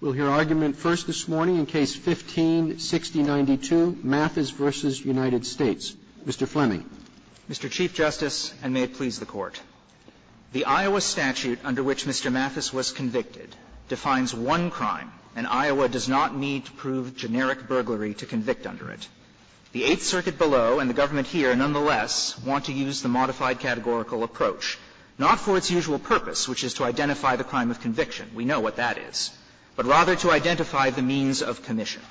We'll hear argument first this morning in Case 15-6092, Mathis v. United States. Mr. Fleming. Mr. Chief Justice, and may it please the Court. The Iowa statute under which Mr. Mathis was convicted defines one crime, and Iowa does not need to prove generic burglary to convict under it. The Eighth Circuit below, and the government here, nonetheless, want to use the modified categorical approach, not for its usual purpose, which is to identify the crime of conviction. We know what that is. But rather to identify the means of commission.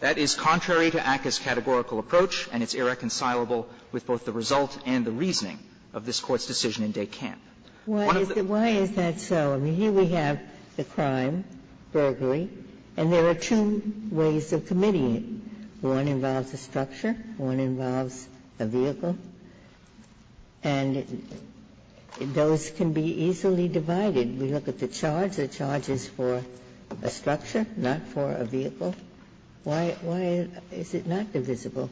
That is contrary to ACCA's categorical approach, and it's irreconcilable with both the result and the reasoning of this Court's decision in Des Campes. One of the things that we have here is the crime, burglary, and there are two ways of committing it. One involves a structure, one involves a vehicle, and those can be easily divided. We look at the charge, the charge is for a structure, not for a vehicle. Why is it not divisible?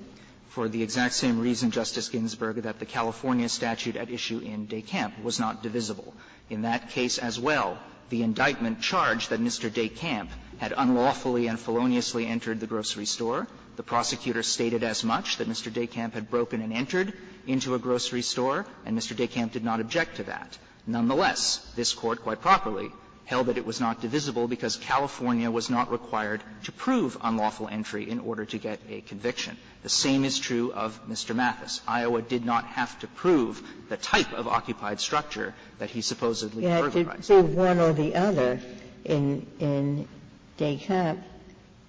For the exact same reason, Justice Ginsburg, that the California statute at issue in Des Campes was not divisible. In that case as well, the indictment charged that Mr. Des Campes had unlawfully and feloniously entered the grocery store. The prosecutor stated as much, that Mr. Des Campes had broken and entered into a grocery store, and Mr. Des Campes did not object to that. Nonetheless, this Court quite properly held that it was not divisible because California was not required to prove unlawful entry in order to get a conviction. The same is true of Mr. Mathis. Iowa did not have to prove the type of occupied structure that he supposedly burglarized. Ginsburg. Ginsburg. In Des Campes,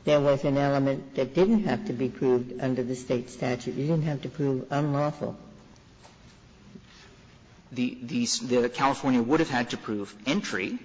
there was an element that didn't have to be proved under the State statute. You didn't have to prove unlawful. The California would have had to prove entry,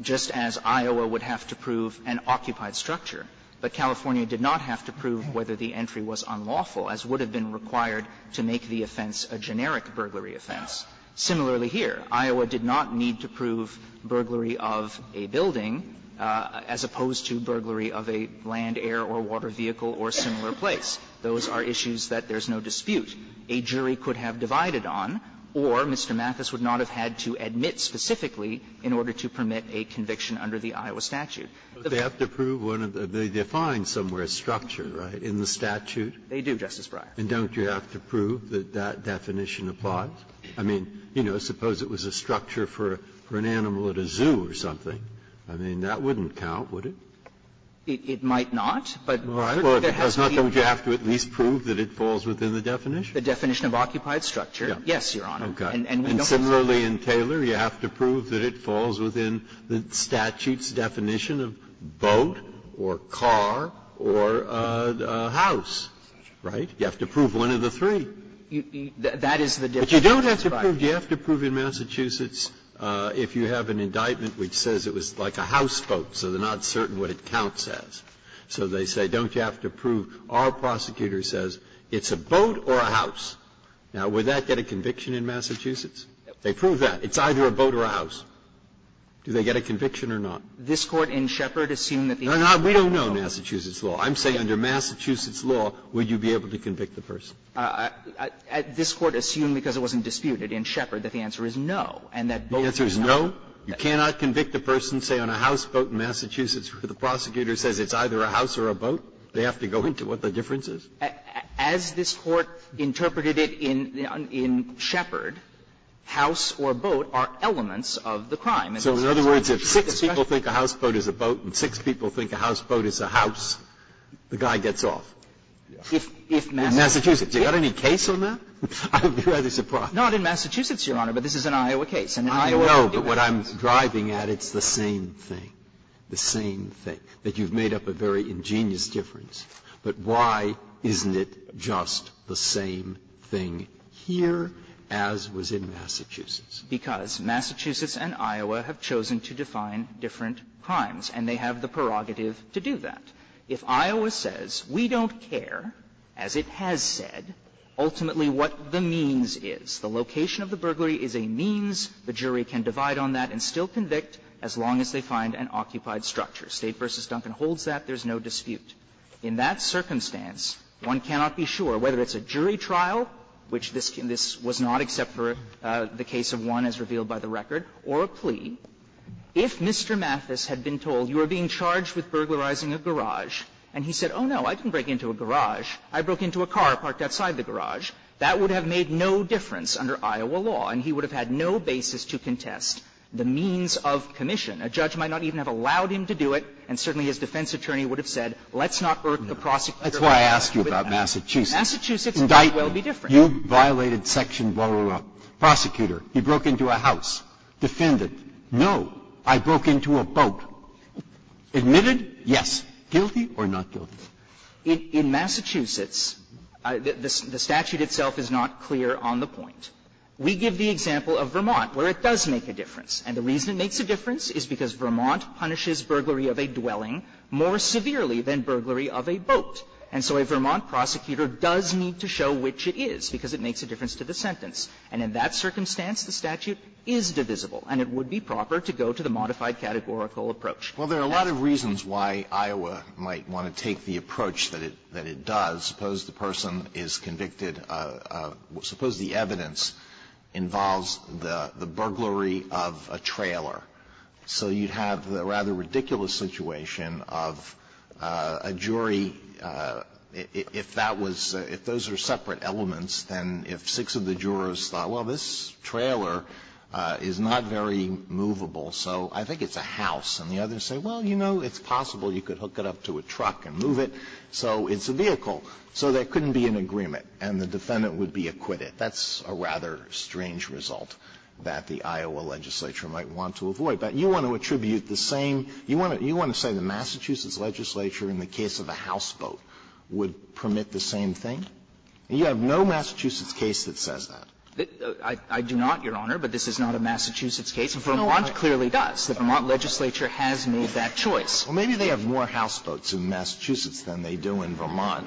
just as Iowa would have to prove an occupied structure, but California did not have to prove whether the entry was unlawful, as would have been required to make the offense a generic burglary offense. Similarly here, Iowa did not need to prove burglary of a building as opposed to burglary of a land, air or water vehicle or similar place. Those are issues that there's no dispute. A jury could have divided on, or Mr. Mathis would not have had to admit specifically in order to permit a conviction under the Iowa statute. Breyer. They have to prove one of the they define somewhere structure, right, in the statute. They do, Justice Breyer. And don't you have to prove that that definition applies? I mean, you know, suppose it was a structure for an animal at a zoo or something. I mean, that wouldn't count, would it? It might not, but there has to be. Don't you have to at least prove that it falls within the definition? The definition of occupied structure, yes, Your Honor. Okay. And similarly in Taylor, you have to prove that it falls within the statute's definition of boat or car or house, right? You have to prove one of the three. That is the difference, Justice Breyer. But you don't have to prove. You have to prove in Massachusetts if you have an indictment which says it was like a houseboat, so they're not certain what it counts as. So they say, don't you have to prove our prosecutor says it's a boat or a house. Now, would that get a conviction in Massachusetts? They prove that. It's either a boat or a house. Do they get a conviction or not? This Court in Shepard assumed that the answer is no. No, no, we don't know Massachusetts law. I'm saying under Massachusetts law, would you be able to convict the person? This Court assumed, because it wasn't disputed in Shepard, that the answer is no, and that boat is not. The answer is no? You cannot convict a person, say, on a houseboat in Massachusetts where the prosecutor says it's either a house or a boat. They have to go into what the difference is? As this Court interpreted it in Shepard, house or boat are elements of the crime. So in other words, if six people think a houseboat is a boat and six people think a houseboat is a house, the guy gets off? If Massachusetts. Do you have any case on that? I would be rather surprised. Not in Massachusetts, Your Honor, but this is an Iowa case. I know, but what I'm driving at, it's the same thing, the same thing. That you've made up a very ingenious difference, but why isn't it just the same thing here as was in Massachusetts? Because Massachusetts and Iowa have chosen to define different crimes, and they have the prerogative to do that. If Iowa says, we don't care, as it has said, ultimately what the means is, the location of the burglary is a means, the jury can divide on that and still convict as long as they find an occupied structure. State v. Duncan holds that. There's no dispute. In that circumstance, one cannot be sure, whether it's a jury trial, which this was not, except for the case of one as revealed by the record, or a plea, if Mr. Mathis had been told you are being charged with burglarizing a garage, and he said, oh, no, I didn't break into a garage, I broke into a car parked outside the garage, that would have made no difference under Iowa law, and he would have had no basis to contest the means of commission. A judge might not even have allowed him to do it, and certainly his defense attorney would have said, let's not urge the prosecutor. Breyer. That's why I asked you about Massachusetts. Massachusetts might well be different. You violated section 121, prosecutor, he broke into a house, defendant, no, I broke into a boat, admitted, yes, guilty or not guilty? In Massachusetts, the statute itself is not clear on the point. We give the example of Vermont, where it does make a difference, and the reason it makes a difference is because Vermont punishes burglary of a dwelling more severely than burglary of a boat. And so a Vermont prosecutor does need to show which it is, because it makes a difference to the sentence. And in that circumstance, the statute is divisible, and it would be proper to go to Alito, why is that? Alito, why is that? Alito, why is that? Well, there are a lot of reasons why Iowa might want to take the approach that it does. Suppose the person is convicted of, suppose the evidence involves the burglary of a trailer. So you'd have the rather ridiculous situation of a jury, if that was, if those are separate elements, then if six of the jurors thought, well, this trailer is not very movable, so I think it's a house. And the others say, well, you know, it's possible you could hook it up to a truck and move it, so it's a vehicle. So there couldn't be an agreement, and the defendant would be acquitted. That's a rather strange result that the Iowa legislature might want to avoid. But you want to attribute the same you want to you want to say the Massachusetts legislature in the case of a houseboat would permit the same thing? You have no Massachusetts case that says that. I do not, Your Honor, but this is not a Massachusetts case. And Vermont clearly does. The Vermont legislature has made that choice. Well, maybe they have more houseboats in Massachusetts than they do in Vermont.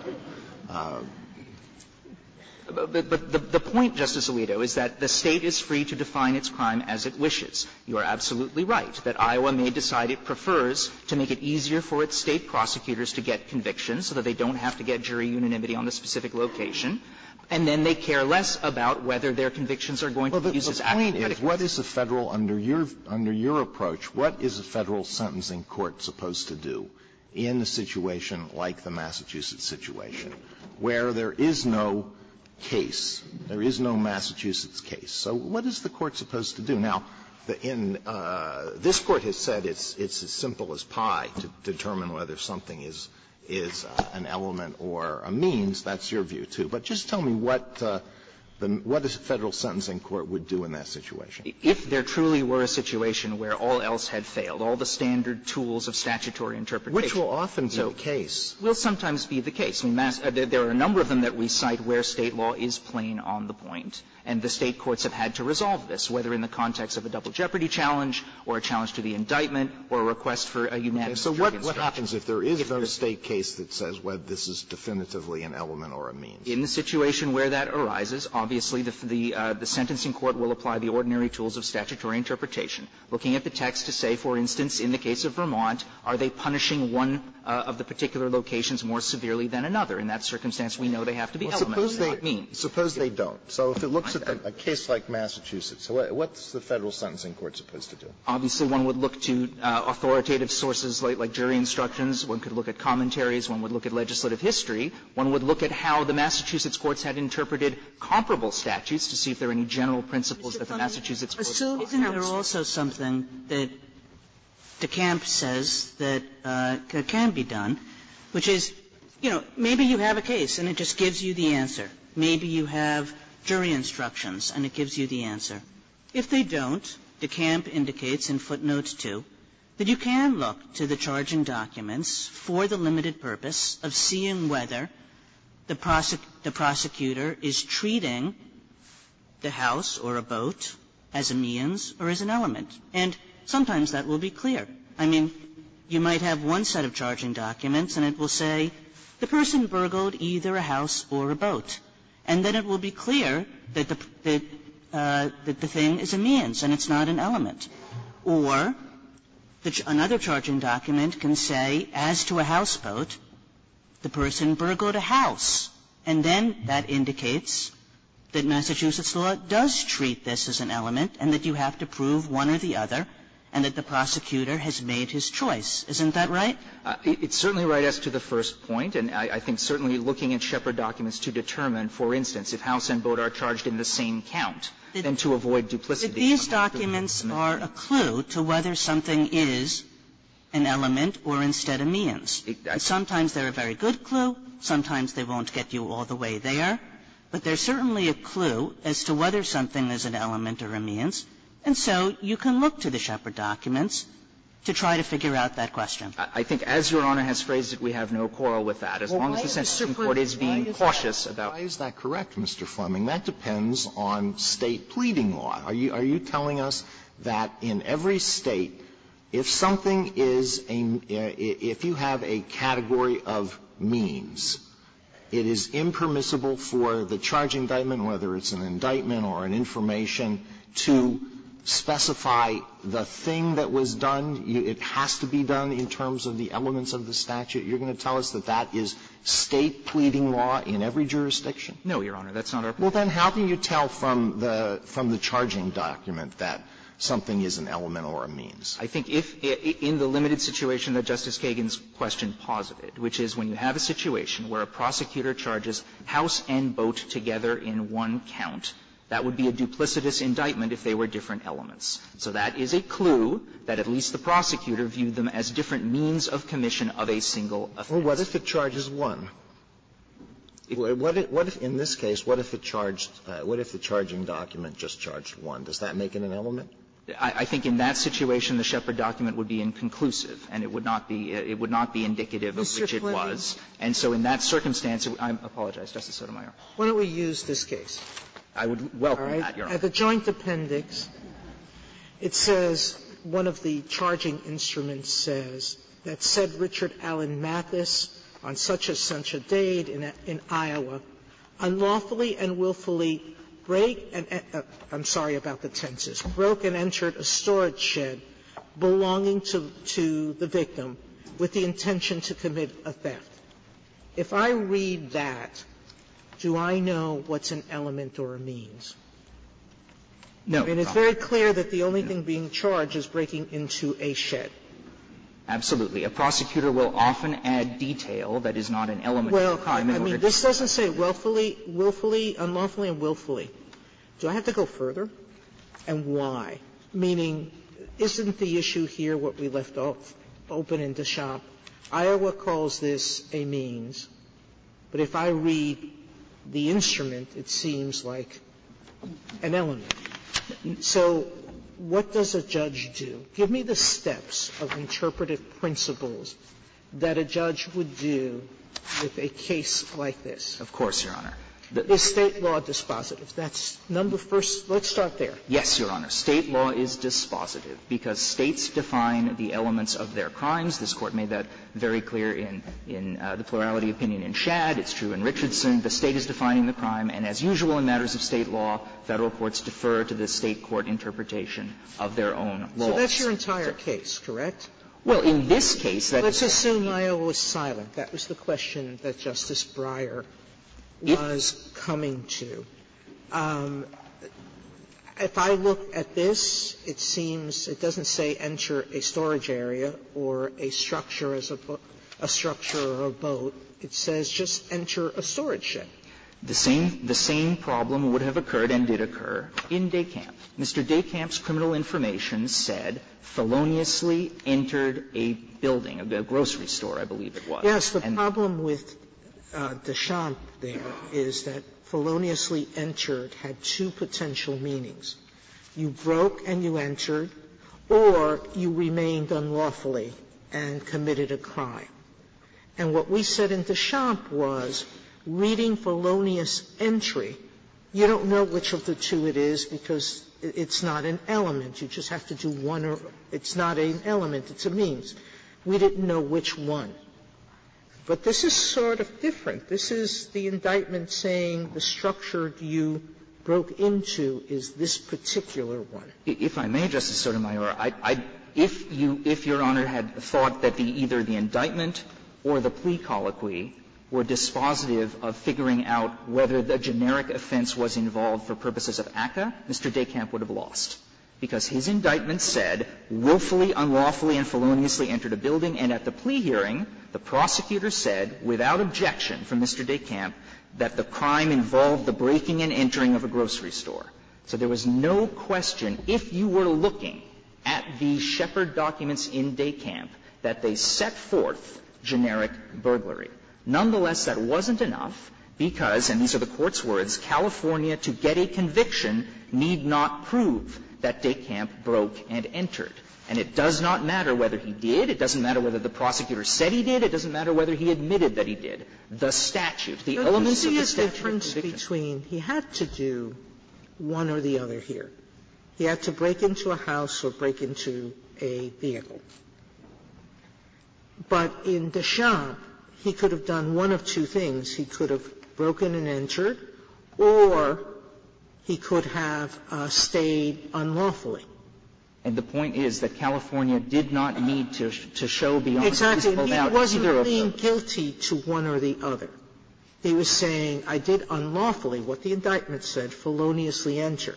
But the point, Justice Alito, is that the State is free to define its crime as it wishes. You are absolutely right that Iowa may decide it prefers to make it easier for its State prosecutors to get convictions so that they don't have to get jury unanimity on the specific location. And then they care less about whether their convictions are going to be used as action. Alito, the point is, what is a Federal, under your approach, what is a Federal sentencing court supposed to do in a situation like the Massachusetts situation, where there is no case, there is no Massachusetts case? So what is the court supposed to do? Now, in the end, this Court has said it's as simple as pie to determine whether something is an element or a means. That's your view, too. But just tell me what the Federal sentencing court would do in that situation. If there truly were a situation where all else had failed, all the standard tools of statutory interpretation. Alito, which will often be the case. Will sometimes be the case. I mean, there are a number of them that we cite where State law is plain on the point. And the State courts have had to resolve this, whether in the context of a double jeopardy challenge or a challenge to the indictment or a request for a unanimous jury instruction. So what happens if there is a State case that says, well, this is definitively an element or a means? In the situation where that arises, obviously, the sentencing court will apply the ordinary tools of statutory interpretation, looking at the text to say, for instance, in the case of Vermont, are they punishing one of the particular locations more severely than another? In that circumstance, we know they have to be elements, not means. Alito, suppose they don't. So if it looks at a case like Massachusetts, what's the Federal sentencing court supposed to do? Obviously, one would look to authoritative sources like jury instructions. One could look at commentaries. One would look at legislative history. One would look at how the Massachusetts courts had interpreted comparable statutes to see if there were any general principles that the Massachusetts courts possibly had. Kagan, isn't there also something that DeCamp says that can be done, which is, you know, maybe you have a case and it just gives you the answer. Maybe you have jury instructions and it gives you the answer. If they don't, DeCamp indicates in footnotes 2 that you can look to the charging documents for the limited purpose of seeing whether the prosecutor is treating the house or a boat as a means or as an element. And sometimes that will be clear. I mean, you might have one set of charging documents and it will say the person burgled either a house or a boat. And then it will be clear that the thing is a means and it's not an element. Or another charging document can say, as to a houseboat, the person burgled a house. And then that indicates that Massachusetts law does treat this as an element and that you have to prove one or the other and that the prosecutor has made his choice. Isn't that right? It's certainly right as to the first point. And I think certainly looking at Shepard documents to determine, for instance, if house and boat are charged in the same count, then to avoid duplicity. These documents are a clue to whether something is an element or instead a means. Sometimes they're a very good clue. Sometimes they won't get you all the way there. But they're certainly a clue as to whether something is an element or a means. And so you can look to the Shepard documents to try to figure out that question. I think as Your Honor has phrased it, we have no quarrel with that. As long as the Supreme Court is being cautious about it. Alito, is that correct, Mr. Fleming? That depends on State pleading law. Are you telling us that in every State, if something is a mean, if you have a category of means, it is impermissible for the charge indictment, whether it's an indictment or an information, to specify the thing that was done? It has to be done in terms of the elements of the statute? You're going to tell us that that is State pleading law in every jurisdiction? No, Your Honor. That's not our point. Well, then how can you tell from the charging document that something is an element or a means? I think if, in the limited situation that Justice Kagan's question posited, which is when you have a situation where a prosecutor charges house and boat together in one count, that would be a duplicitous indictment if they were different elements. So that is a clue that at least the prosecutor viewed them as different means of commission of a single offense. Well, what if it charges one? What if, in this case, what if it charged, what if the charging document just charged one? Does that make it an element? I think in that situation the Shepard document would be inconclusive and it would not be, it would not be indicative of which it was. And so in that circumstance, I apologize, Justice Sotomayor. Why don't we use this case? I would welcome that, Your Honor. All right. At the joint appendix, it says, one of the charging instruments says that said Richard Allen Mathis on such-and-such a date in Iowa, unlawfully and willfully break and I'm sorry about the tenses, broke and entered a storage shed belonging to the victim with the intention to commit a theft. If I read that, do I know what's an element or a means? No, Your Honor. I mean, it's very clear that the only thing being charged is breaking into a shed. Absolutely. A prosecutor will often add detail that is not an element or a means. Well, I mean, this doesn't say willfully, willfully, unlawfully and willfully. Do I have to go further? And why? Meaning, isn't the issue here what we left open in DeShoppe? Iowa calls this a means, but if I read the instrument, it seems like an element. So what does a judge do? Give me the steps of interpretive principles that a judge would do with a case like this. Of course, Your Honor. Is State law dispositive? That's number first. Let's start there. Yes, Your Honor. State law is dispositive because States define the elements of their crimes. This Court made that very clear in the plurality opinion in Shad. It's true in Richardson. The State is defining the crime. And as usual in matters of State law, Federal courts defer to the State court interpretation of their own laws. So that's your entire case, correct? Well, in this case, that is correct. Let's assume Iowa was silent. That was the question that Justice Breyer was coming to. If I look at this, it seems it doesn't say enter a storage area or a structure as a boat, a structure or a boat. It says just enter a storage ship. The same problem would have occurred and did occur in DeKamp. Mr. DeKamp's criminal information said feloniously entered a building, a grocery store, I believe it was. Yes. The problem with DeKamp there is that feloniously entered had two potential meanings. You broke and you entered, or you remained unlawfully and committed a crime. And what we said in DeKamp was, reading felonious entry, you don't know which of the two it is because it's not an element. You just have to do one or one. It's not an element, it's a means. We didn't know which one. But this is sort of different. This is the indictment saying the structure you broke into is this particular one. If I may, Justice Sotomayor, if you – if Your Honor had thought that either the indictment or the plea colloquy were dispositive of figuring out whether the generic offense was involved for purposes of ACCA, Mr. DeKamp would have lost, because his indictment said willfully, unlawfully, and feloniously entered a building, and at the plea hearing, the prosecutor said, without objection from Mr. DeKamp, that the crime involved the breaking and entering of a grocery store. So there was no question, if you were looking at the Shepard documents in DeKamp, that they set forth generic burglary. Nonetheless, that wasn't enough, because, and these are the Court's words, California to get a conviction need not prove that DeKamp broke and entered. And it does not matter whether he did. It doesn't matter whether the prosecutor said he did. It doesn't matter whether he admitted that he did. The statute, the elements of the statute of conviction. Sotomayor, you see a difference between he had to do one or the other here. He had to break into a house or break into a vehicle. But in DeChamp, he could have done one of two things. He could have broken and entered, or he could have stayed unlawfully. And the point is that California did not need to show beyond a reasonable doubt either of those. Exactly. He wasn't being guilty to one or the other. He was saying, I did unlawfully, what the indictment said, feloniously enter.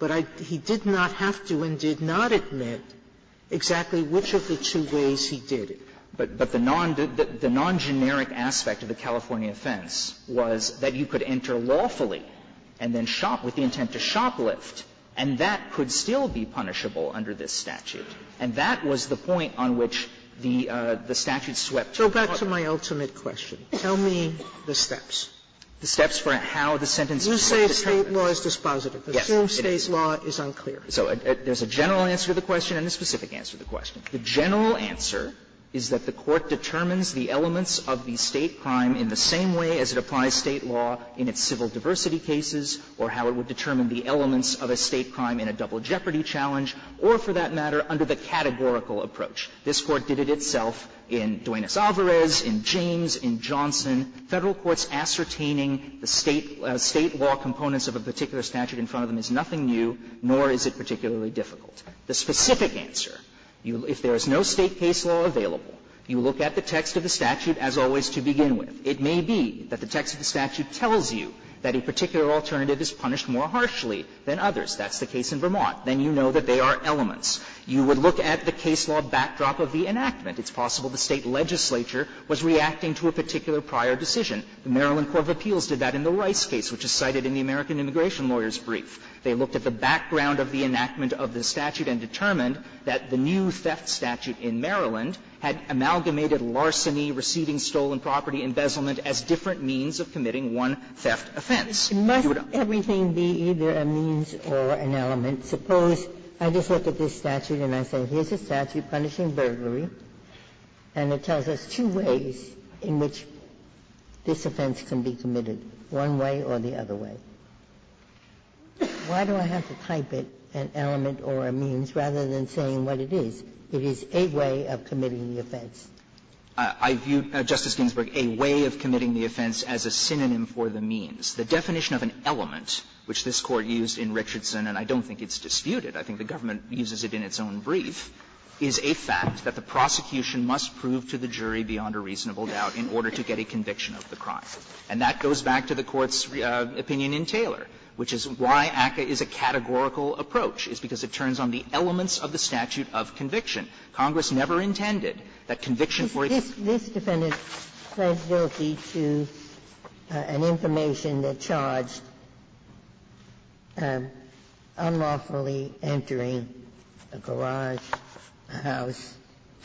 But he did not have to and did not admit exactly which of the two ways he did it. But the non-generic aspect of the California offense was that you could enter lawfully and then shop with the intent to shoplift, and that could still be punishable under this statute. And that was the point on which the statute swept. Sotomayor, go back to my ultimate question. Tell me the steps. The steps for how the sentence was determined. You say State law is dispositive. Yes. Assume State law is unclear. So there's a general answer to the question and a specific answer to the question. The general answer is that the Court determines the elements of the State crime in the same way as it applies State law in its civil diversity cases or how it would determine the elements of a State crime in a double jeopardy challenge or, for that matter, under the categorical approach. This Court did it itself in Duenas-Alvarez, in James, in Johnson. Federal courts ascertaining the State law components of a particular statute in front of them is nothing new, nor is it particularly difficult. The specific answer, if there is no State case law available, you look at the text of the statute as always to begin with. It may be that the text of the statute tells you that a particular alternative is punished more harshly than others. That's the case in Vermont. Then you know that they are elements. You would look at the case law backdrop of the enactment. It's possible the State legislature was reacting to a particular prior decision. The Maryland Court of Appeals did that in the Rice case, which is cited in the American Immigration Lawyers' Brief. They looked at the background of the enactment of the statute and determined that the new theft statute in Maryland had amalgamated larceny, receiving stolen property, embezzlement as different means of committing one theft offense. Ginsburg. Ginsburg. And must everything be either a means or an element? Suppose I just look at this statute and I say, here's a statute punishing burglary, and it tells us two ways in which this offense can be committed, one way or the other way. Why do I have to type it, an element or a means, rather than saying what it is? It is a way of committing the offense. I view, Justice Ginsburg, a way of committing the offense as a synonym for the means. The definition of an element, which this Court used in Richardson, and I don't think it's disputed, I think the government uses it in its own brief, is a fact that the prosecution must prove to the jury beyond a reasonable doubt in order to get a conviction of the crime. And that goes back to the Court's opinion in Taylor, which is why ACCA is a categorical approach, is because it turns on the elements of the statute of conviction. Congress never intended that conviction for its own. This defendant pled guilty to an information that charged unlawfully entering a garage, a house.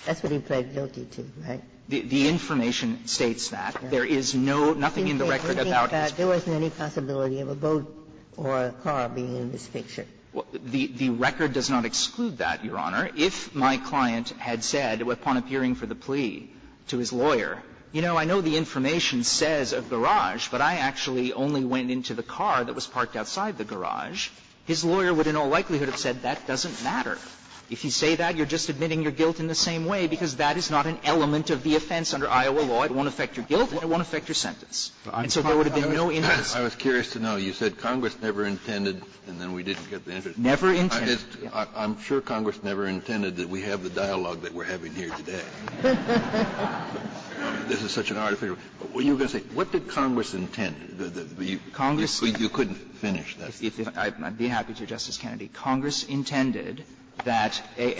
That's what he pled guilty to, right? The information states that. There is no, nothing in the record about his plea. Ginsburg, I think that there wasn't any possibility of a boat or a car being in this picture. The record does not exclude that, Your Honor. If my client had said, upon appearing for the plea, to his lawyer, you know, I know the information says a garage, but I actually only went into the car that was parked outside the garage, his lawyer would in all likelihood have said that doesn't matter. If you say that, you're just admitting your guilt in the same way, because that is not an element of the offense under Iowa law. It won't affect your guilt and it won't affect your sentence. And so there would have been no interest. Kennedy, I was curious to know, you said Congress never intended, and then we didn't get the answer. Never intended. I'm sure Congress never intended that we have the dialogue that we're having here today. This is such an artificial. You were going to say, what did Congress intend? Congress. You couldn't finish that. I'd be happy to, Justice Kennedy. Congress intended that a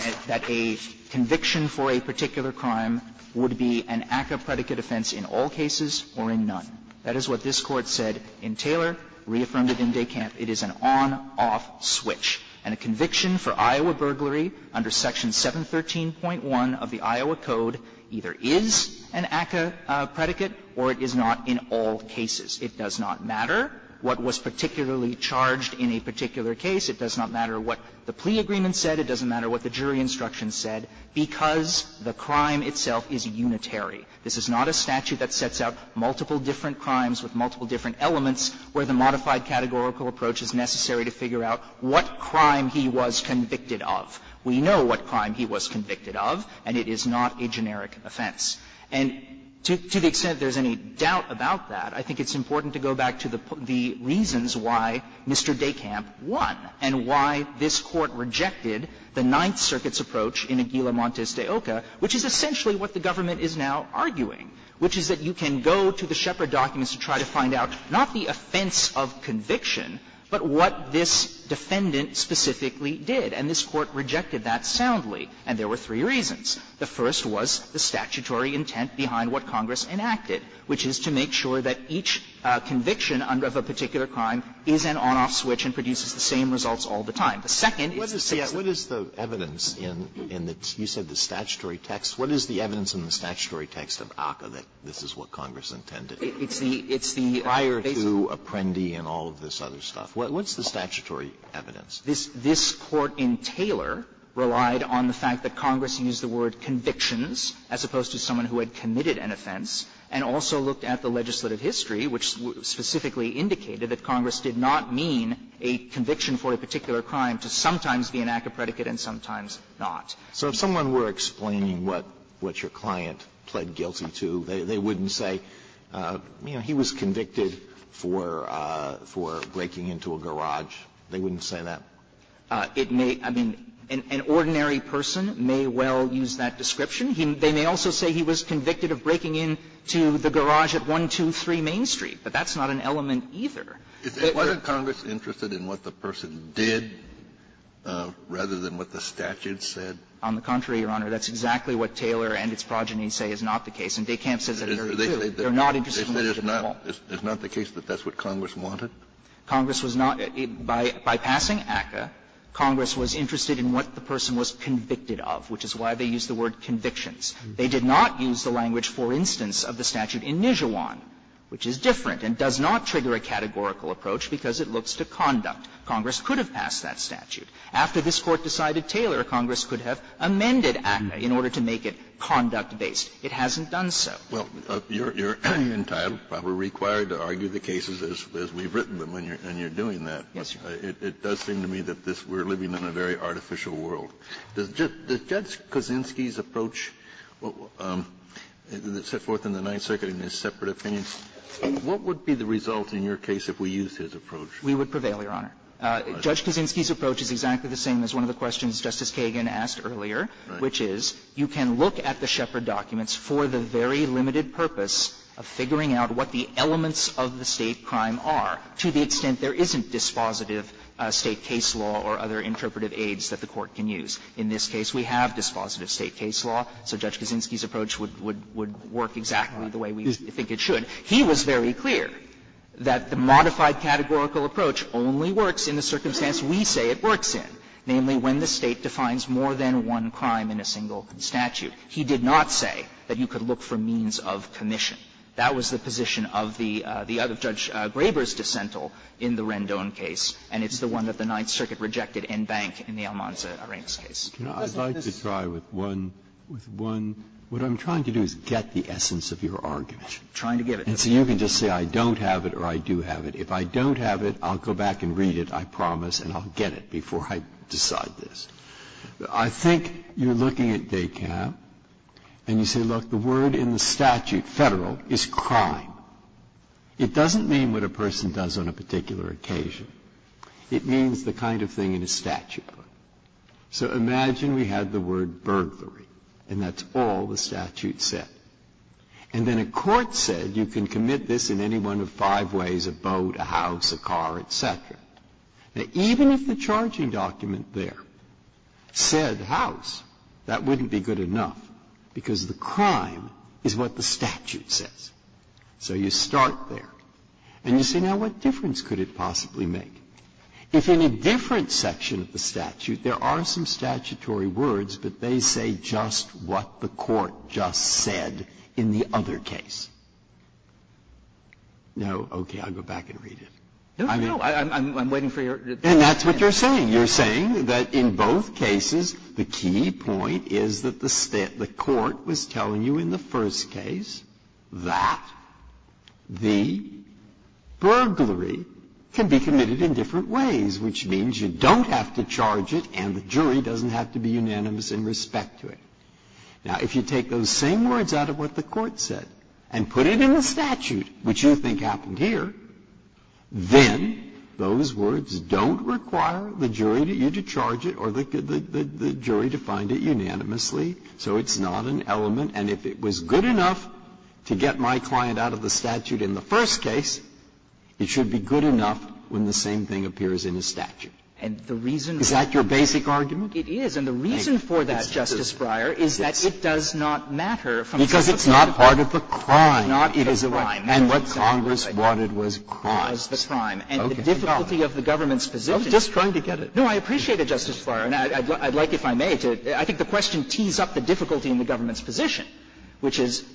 conviction for a particular crime would be an ACCA predicate offense in all cases or in none. That is what this Court said in Taylor, reaffirmed it in DeKalb. It is an on-off switch. And a conviction for Iowa burglary under Section 713.1 of the Iowa Code either is an ACCA predicate or it is not in all cases. It does not matter what was particularly charged in a particular case. It does not matter what the plea agreement said. It doesn't matter what the jury instruction said, because the crime itself is unitary. This is not a statute that sets out multiple different crimes with multiple different elements where the modified categorical approach is necessary to figure out what crime he was convicted of. We know what crime he was convicted of, and it is not a generic offense. And to the extent there's any doubt about that, I think it's important to go back to the reasons why Mr. Dekamp won. And why this Court rejected the Ninth Circuit's approach in Aguila Montes de Oca, which is essentially what the government is now arguing, which is that you can go to the Shepard documents to try to find out not the offense of conviction, but what this defendant specifically did. And this Court rejected that soundly, and there were three reasons. The first was the statutory intent behind what Congress enacted, which is to make sure that each conviction of a particular crime is an on-off switch and produces the same results all the time. The second is the sixth. Alitoso, what is the evidence in the two, you said the statutory text. What is the evidence in the statutory text of Oca that this is what Congress intended? It's the prior to Apprendi and all of this other stuff. What's the statutory evidence? This Court in Taylor relied on the fact that Congress used the word convictions as opposed to someone who had committed an offense and also looked at the legislative history, which specifically indicated that Congress did not mean a conviction for a particular crime to sometimes be an act of predicate and sometimes not. So if someone were explaining what your client pled guilty to, they wouldn't say, you know, he was convicted for breaking into a garage. They wouldn't say that? It may be an ordinary person may well use that description. They may also say he was convicted of breaking into the garage at 123 Main Street, but that's not an element either. Wasn't Congress interested in what the person did rather than what the statute said? On the contrary, Your Honor, that's exactly what Taylor and its progeny say is not the case. And DeKalb says it earlier, too. They're not interested in what the person wanted. They say it's not the case that that's what Congress wanted? Congress was not. By passing ACCA, Congress was interested in what the person was convicted of, which is why they use the word convictions. They did not use the language, for instance, of the statute in Nijuan, which is different and does not trigger a categorical approach because it looks to conduct. Congress could have passed that statute. After this Court decided Taylor, Congress could have amended ACCA in order to make it conduct-based. It hasn't done so. Kennedy, you're entitled, probably required, to argue the cases as we've written them, and you're doing that. Yes, Your Honor. It does seem to me that this we're living in a very artificial world. Does Judge Kaczynski's approach that's set forth in the Ninth Circuit in his separate opinion, what would be the result in your case if we used his approach? We would prevail, Your Honor. Judge Kaczynski's approach is exactly the same as one of the questions Justice Kagan asked earlier, which is you can look at the Shepard documents for the very limited purpose of figuring out what the elements of the State crime are to the extent there isn't dispositive State case law or other interpretive aids that the Court can use. In this case, we have dispositive State case law, so Judge Kaczynski's approach would work exactly the way we think it should. He was very clear that the modified categorical approach only works in the circumstance we say it works in, namely, when the State defines more than one crime in a single statute. He did not say that you could look for means of commission. That was the position of the other Judge Graber's dissental in the Rendon case, and it's the one that the Ninth Circuit rejected in Bank in the Almanza-Reynolds case. Breyer, I'd like to try with one – with one – what I'm trying to do is get the essence of your argument. Trying to get it. And so you can just say I don't have it or I do have it. If I don't have it, I'll go back and read it, I promise, and I'll get it before I decide this. I think you're looking at decap, and you say, look, the word in the statute, Federal, is crime. It doesn't mean what a person does on a particular occasion. It means the kind of thing in a statute. So imagine we had the word burglary, and that's all the statute said. And then a court said you can commit this in any one of five ways, a boat, a house, a car, et cetera. Now, even if the charging document there said house, that wouldn't be good enough because the crime is what the statute says. So you start there. And you say, now, what difference could it possibly make? If in a different section of the statute there are some statutory words, but they say just what the court just said in the other case. Now, okay, I'll go back and read it. I mean no, I'm waiting for your answer. And that's what you're saying. You're saying that in both cases, the key point is that the court was telling you in the first case that the burglary can be committed in different ways, which means you don't have to charge it, and the jury doesn't have to be unanimous in respect to it. Now, if you take those same words out of what the court said and put it in the statute, which you think happened here, then those words don't require the jury to charge it or the jury to find it unanimously. So it's not an element. And if it was good enough to get my client out of the statute in the first case, it should be good enough when the same thing appears in the statute. Is that your basic argument? It is. And the reason for that, Justice Breyer, is that it does not matter from the first case. Because it's not part of the crime. It is not part of the crime. And what Congress wanted was cause. It was the crime. And the difficulty of the government's position is that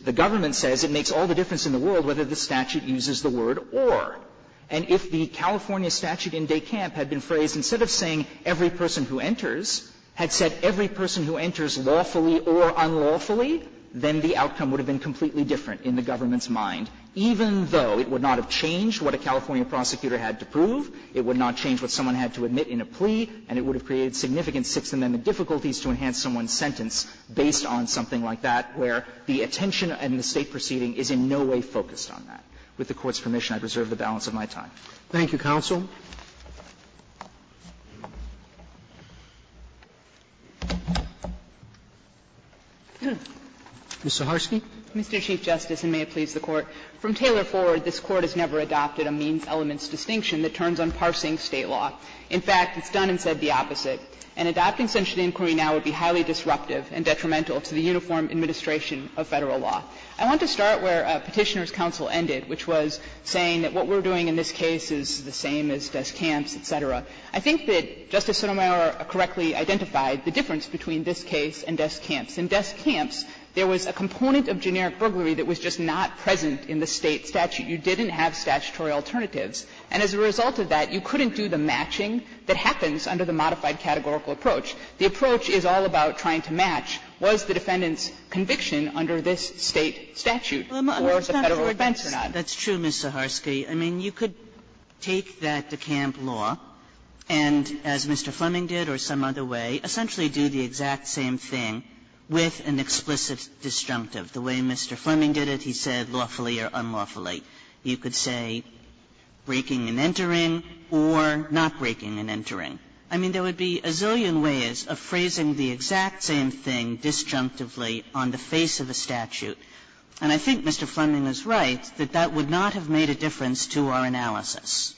the government says it makes all the difference in the world whether the statute uses the word or. And if the California statute in Decamp had been phrased, instead of saying every person who enters, had said every person who enters lawfully or unlawfully, then the outcome would have been completely different in the government's position. And that would have created a significant amount of confusion in the government's mind, even though it would not have changed what a California prosecutor had to prove, it would not change what someone had to admit in a plea, and it would have created significant sixth amendment difficulties to enhance someone's sentence based on something like that, where the attention in the State proceeding is in no way focused on that. With the Court's permission, I reserve the balance of my time. Roberts. Thank you, counsel. Ms. Saharsky. Mr. Chief Justice, and may it please the Court. From Taylor forward, this Court has never adopted a means-elements distinction that turns on parsing State law. In fact, it's done and said the opposite. And adopting such an inquiry now would be highly disruptive and detrimental to the uniform administration of Federal law. I want to start where Petitioner's counsel ended, which was saying that what we're doing in this case is the same as desk camps, et cetera. I think that Justice Sotomayor correctly identified the difference between this case and desk camps. In desk camps, there was a component of generic burglary that was just not present in the State statute. You didn't have statutory alternatives. And as a result of that, you couldn't do the matching that happens under the modified categorical approach. The approach is all about trying to match, was the defendant's conviction under this State statute or the Federal offense or not. Kagan, that's true, Ms. Zaharsky. I mean, you could take that decamp law and, as Mr. Fleming did or some other way, essentially do the exact same thing with an explicit disjunctive. The way Mr. Fleming did it, he said lawfully or unlawfully. You could say breaking and entering or not breaking and entering. I mean, there would be a zillion ways of phrasing the exact same thing disjunctively on the face of a statute. And I think Mr. Fleming is right that that would not have made a difference to our analysis.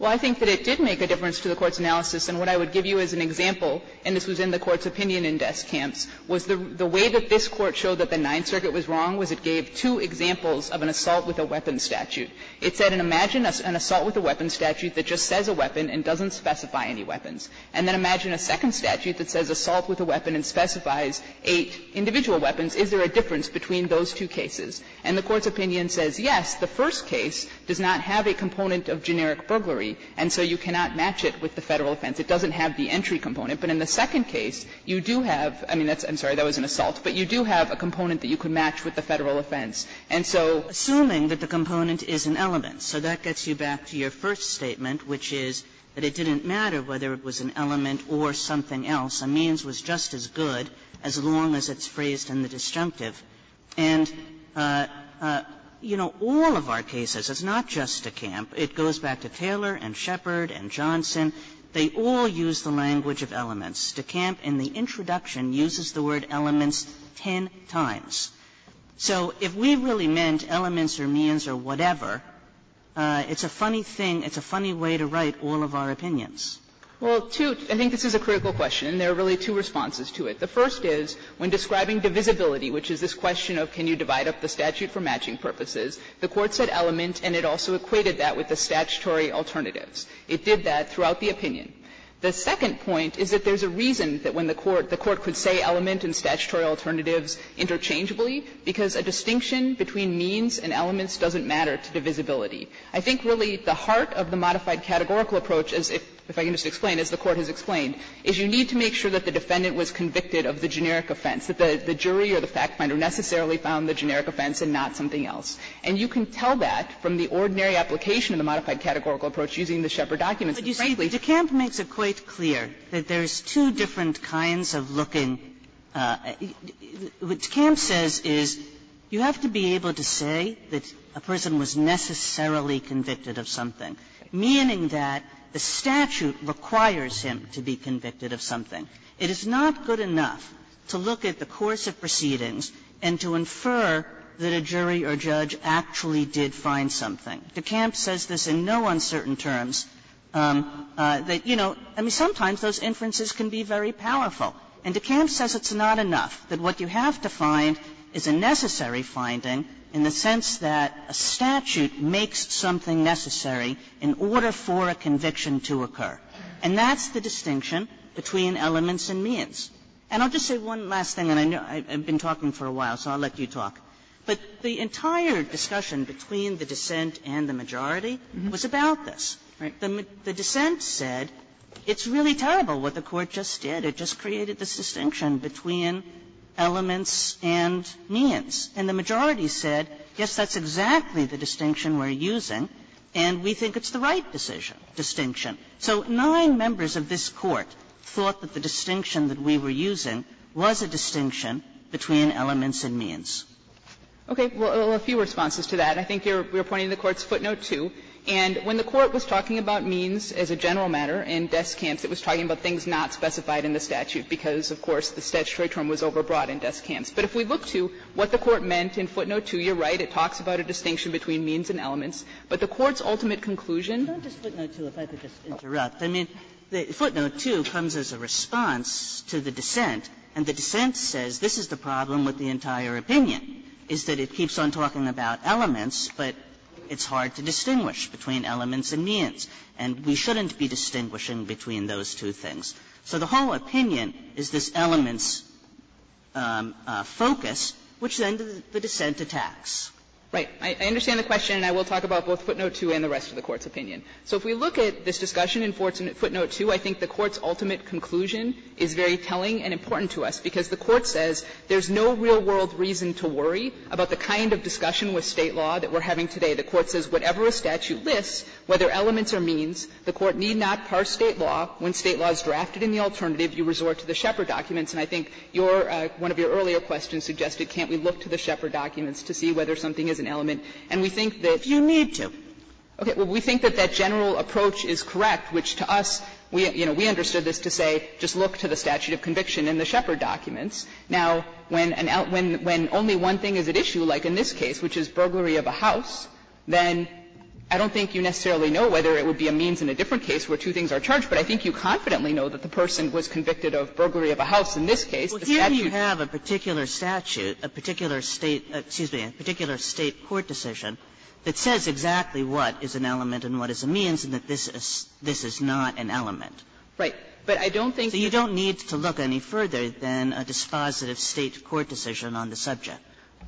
Zaharsky Well, I think that it did make a difference to the Court's analysis. And what I would give you as an example, and this was in the Court's opinion in desk camps, was the way that this Court showed that the Ninth Circuit was wrong was it gave two examples of an assault with a weapon statute. It said, imagine an assault with a weapon statute that just says a weapon and doesn't specify any weapons. And then imagine a second statute that says assault with a weapon and specifies eight individual weapons. Is there a difference between those two cases? And the Court's opinion says, yes, the first case does not have a component of generic burglary, and so you cannot match it with the Federal offense. It doesn't have the entry component. But in the second case, you do have – I mean, that's – I'm sorry, that was an assault. But you do have a component that you could match with the Federal offense. And so assuming that the component is an element, so that gets you back to your first statement, which is that it didn't matter whether it was an element or something else, a means was just as good as long as it's phrased in the disjunctive. And, you know, all of our cases, it's not just DeCamp. It goes back to Taylor and Shepard and Johnson. They all use the language of elements. DeCamp in the introduction uses the word elements ten times. So if we really meant elements or means or whatever, it's a funny thing, it's a funny way to write all of our opinions. Well, two – I think this is a critical question, and there are really two responses to it. The first is, when describing divisibility, which is this question of can you divide up the statute for matching purposes, the Court said element, and it also equated that with the statutory alternatives. It did that throughout the opinion. The second point is that there's a reason that when the Court – the Court could say element and statutory alternatives interchangeably, because a distinction between means and elements doesn't matter to divisibility. I think really the heart of the modified categorical approach, as if – if I can just explain, as the Court has explained, is you need to make sure that the defendant was convicted of the generic offense, that the jury or the fact finder necessarily found the generic offense and not something else. And you can tell that from the ordinary application of the modified categorical approach using the Shepard documents. And, frankly – Kagan But, you see, DeCamp makes it quite clear that there's two different kinds of looking – what DeCamp says is you have to be able to say that a person was necessarily convicted of something, meaning that the statute requires him to be convicted of something. It is not good enough to look at the course of proceedings and to infer that a jury or judge actually did find something. DeCamp says this in no uncertain terms that, you know, I mean, sometimes those inferences can be very powerful. And DeCamp says it's not enough, that what you have to find is a necessary finding in the sense that a statute makes something necessary in order for a conviction to occur. And that's the distinction between elements and means. And I'll just say one last thing, and I know I've been talking for a while, so I'll let you talk. But the entire discussion between the dissent and the majority was about this, right? The dissent said it's really terrible what the Court just did. It just created this distinction between elements and means. And the majority said, yes, that's exactly the distinction we're using, and we think it's the right decision, distinction. So nine members of this Court thought that the distinction that we were using was a distinction between elements and means. Saharsky, and I think you're pointing to the Court's footnote, too, and when the Court was talking about means as a general matter in DeCamp's, it was talking about things not specified in the statute because, of course, the statutory term was overbrought in DeCamp's. But if we look to what the Court meant in footnote 2, you're right, it talks about a distinction between means and elements. But the Court's ultimate conclusion was that it's not just footnote 2. If I could just interrupt. I mean, footnote 2 comes as a response to the dissent, and the dissent says this is the problem with the entire opinion, is that it keeps on talking about elements, but it's hard to distinguish between elements and means. And we shouldn't be distinguishing between those two things. So the whole opinion is this elements focus, which then the dissent attacks. Saharsky, and I will talk about both footnote 2 and the rest of the Court's opinion. So if we look at this discussion in footnote 2, I think the Court's ultimate conclusion is very telling and important to us, because the Court says there's no real-world reason to worry about the kind of discussion with State law that we're having today. The Court says whatever a statute lists, whether elements or means, the Court need not parse State law. When State law is drafted in the alternative, you resort to the Shepard documents. And I think your one of your earlier questions suggested can't we look to the Shepard documents to see whether something is an element. And we think that. Sotomayor, if you need to. Saharsky, we think that that general approach is correct, which to us, you know, we understood this to say just look to the statute of conviction in the Shepard documents. Now, when only one thing is at issue, like in this case, which is burglary of a house, then I don't think you necessarily know whether it would be a means in a different case where two things are charged, but I think you confidently know that the person was convicted of burglary of a house in this case. Kagan, a particular statute, a particular State, excuse me, a particular State court decision that says exactly what is an element and what is a means and that this is not an element. Saharsky, but I don't think. So you don't need to look any further than a dispositive State court decision on the subject.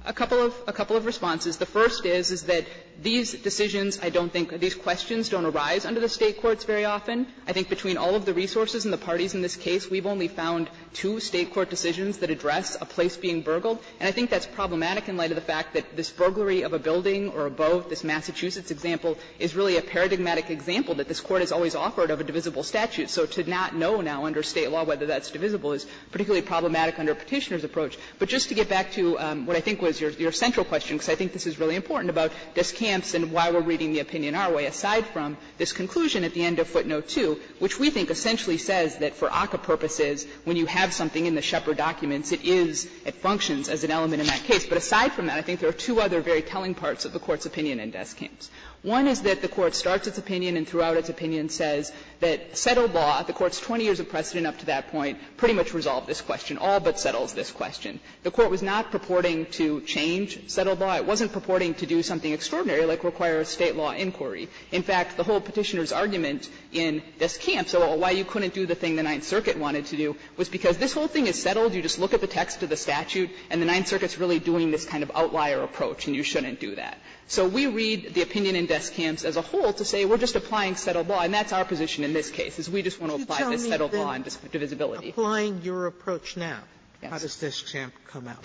Saharsky, a couple of responses. The first is that these decisions, I don't think these questions don't arise under the State courts very often. I think between all of the resources and the parties in this case, we've only found two State court decisions that address a place being burgled, and I think that's problematic in light of the fact that this burglary of a building or a boat, this Massachusetts example, is really a paradigmatic example that this Court has always offered of a divisible statute. So to not know now under State law whether that's divisible is particularly problematic under Petitioner's approach. But just to get back to what I think was your central question, because I think this is really important about discamps and why we're reading the opinion our way aside from this conclusion at the end of footnote 2, which we think essentially says that for ACCA purposes, when you have something in the Shepard documents, it is, it functions as an element in that case. But aside from that, I think there are two other very telling parts of the Court's opinion in discamps. One is that the Court starts its opinion and throughout its opinion says that settled law, the Court's 20 years of precedent up to that point, pretty much resolved this question, all but settles this question. The Court was not purporting to change settled law. It wasn't purporting to do something extraordinary like require a State law inquiry. In fact, the whole Petitioner's argument in discamps or why you couldn't do the thing the Ninth Circuit wanted to do was because this whole thing is settled, you just look at the text of the statute, and the Ninth Circuit is really doing this kind of outlier approach and you shouldn't do that. So we read the opinion in discamps as a whole to say we're just applying settled law, and that's our position in this case, is we just want to apply this settled law in divisibility. Sotomayor, applying your approach now, how does discamp come out?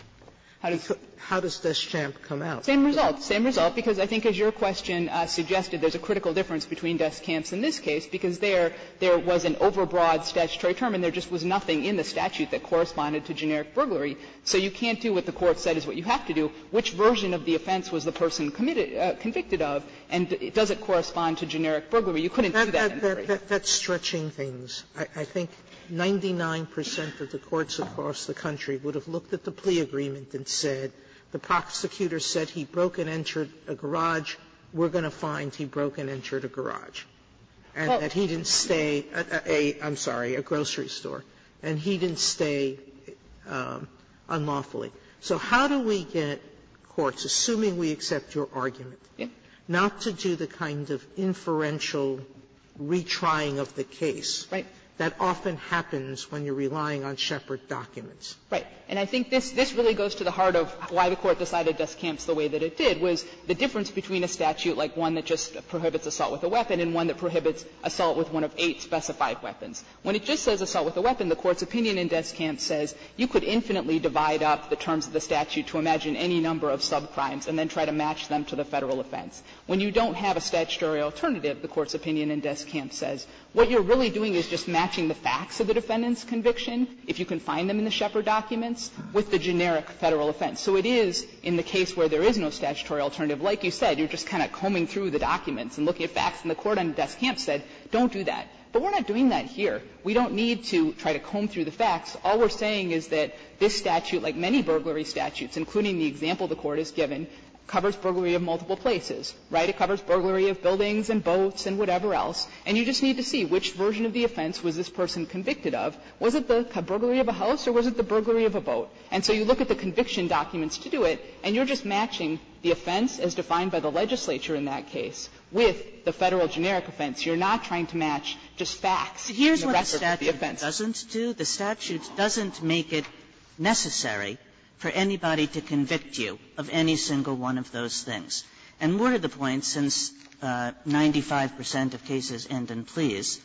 How does discamp come out? Saharsky-Klein, Jr.: Same result, same result, because I think as your question suggested, there's a critical difference between discamps in this case, because there was an overbroad statutory term and there just was nothing in the statute that corresponded to generic burglary. So you can't do what the Court said is what you have to do. Which version of the offense was the person convicted of, and does it correspond to generic burglary? You couldn't do that in this case. Sotomayor, that's stretching things. I think 99 percent of the courts across the country would have looked at the plea agreement and said the prosecutor said he broke and entered a garage. We're going to find he broke and entered a garage, and that he didn't stay at a, I'm sorry, a grocery store, and he didn't stay unlawfully. So how do we get courts, assuming we accept your argument, not to do the kind of inferential retrying of the case that often happens when you're relying on Shepard documents? Saharsky-Klein, Jr.: Right. And I think this really goes to the heart of why the Court decided Deskamp's the way that it did, was the difference between a statute like one that just prohibits assault with a weapon and one that prohibits assault with one of eight specified weapons. When it just says assault with a weapon, the Court's opinion in Deskamp says you could infinitely divide up the terms of the statute to imagine any number of subcrimes and then try to match them to the Federal offense. When you don't have a statutory alternative, the Court's opinion in Deskamp says, what you're really doing is just matching the facts of the defendant's conviction. If you can find them in the Shepard documents, with the generic Federal offense. So it is in the case where there is no statutory alternative, like you said, you're just kind of combing through the documents and looking at facts, and the Court on Deskamp said, don't do that. But we're not doing that here. We don't need to try to comb through the facts. All we're saying is that this statute, like many burglary statutes, including the example the Court has given, covers burglary of multiple places, right? It covers burglary of buildings and boats and whatever else. And you just need to see which version of the offense was this person convicted of. Was it the burglary of a house or was it the burglary of a boat? So you look at the conviction documents to do it and you're just matching the offense as defined by the legislature in that case, with the Federal generic offense. You're not trying to match just facts and the rest of the offense. Kaganer, it doesn't do, the statute doesn't make it necessary for anybody to convict you of any single one of those things. And more to the point, since 95 percent of cases end in pleas,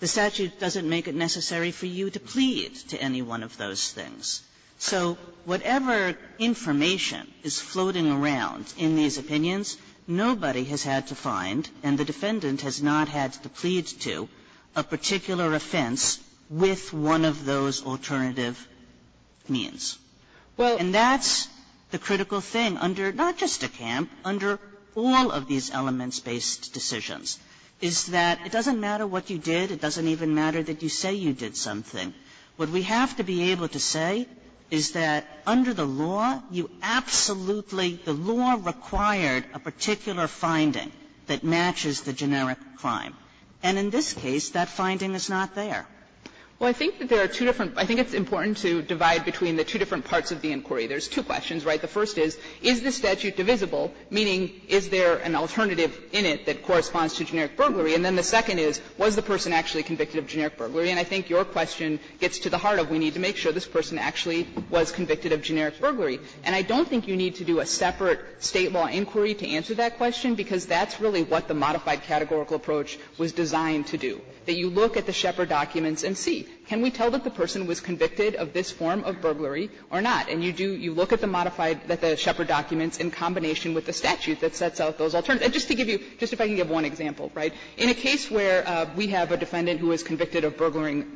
the statute doesn't make it necessary for you to plead to any one of those things. So whatever information is floating around in these opinions, nobody has had to find and the defendant has not had to plead to a particular offense with one of those alternative means. And that's the critical thing under not just a camp, under all of these elements-based decisions, is that it doesn't matter what you did. It doesn't even matter that you say you did something. What we have to be able to say is that under the law, you absolutely, the law required a particular finding that matches the generic crime. And in this case, that finding is not there. Well, I think that there are two different, I think it's important to divide between the two different parts of the inquiry. There's two questions, right? The first is, is the statute divisible, meaning is there an alternative in it that corresponds to generic burglary? And then the second is, was the person actually convicted of generic burglary? And I think your question gets to the heart of we need to make sure this person actually was convicted of generic burglary. And I don't think you need to do a separate State law inquiry to answer that question, because that's really what the modified categorical approach was designed to do, that you look at the Shepard documents and see, can we tell that the person was convicted of this form of burglary or not? And you do, you look at the modified, at the Shepard documents in combination with the statute that sets out those alternatives. And just to give you, just if I can give one example, right, in a case where we have a defendant who is convicted of burglaring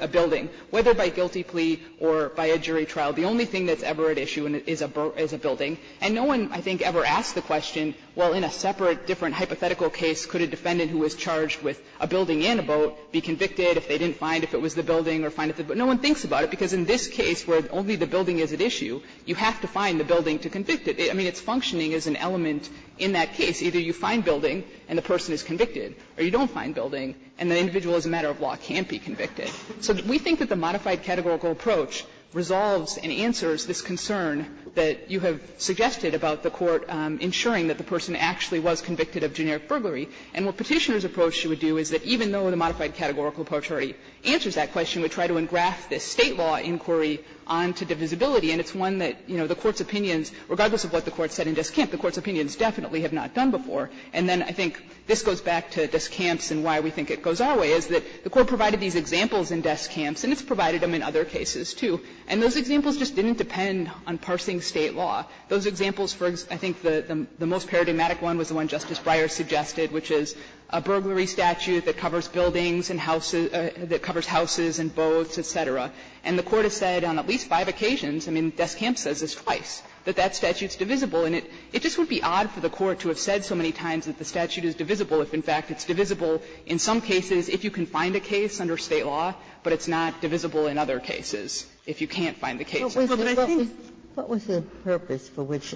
a building, whether by guilty plea or by a jury trial, the only thing that's ever at issue is a building. And no one, I think, ever asked the question, well, in a separate different hypothetical case, could a defendant who was charged with a building and a boat be convicted if they didn't find if it was the building or find if it was the boat? No one thinks about it, because in this case where only the building is at issue, you have to find the building to convict it. I mean, its functioning is an element in that case. Either you find building and the person is convicted, or you don't find building and the individual, as a matter of law, can't be convicted. So we think that the modified categorical approach resolves and answers this concern that you have suggested about the Court ensuring that the person actually was convicted of generic burglary. And what Petitioner's approach should do is that even though the modified categorical approach already answers that question, we try to engraft this State law inquiry onto divisibility. And it's one that, you know, the Court's opinions, regardless of what the Court said in Deskamp, the Court's opinions definitely have not done before. And then I think this goes back to Deskamp's and why we think it goes our way, is that the Court provided these examples in Deskamp's, and it's provided them in other cases, too. And those examples just didn't depend on parsing State law. Those examples for, I think, the most paradigmatic one was the one Justice Breyer suggested, which is a burglary statute that covers buildings and houses that covers houses and boats, et cetera. And the Court has said on at least five occasions, I mean, Deskamp says this twice, that that statute's divisible. And it just would be odd for the Court to have said so many times that the statute is divisible if, in fact, it's divisible in some cases if you can find a case under State law, but it's not divisible in other cases if you can't find the case. Ginsburg, I think the purpose for which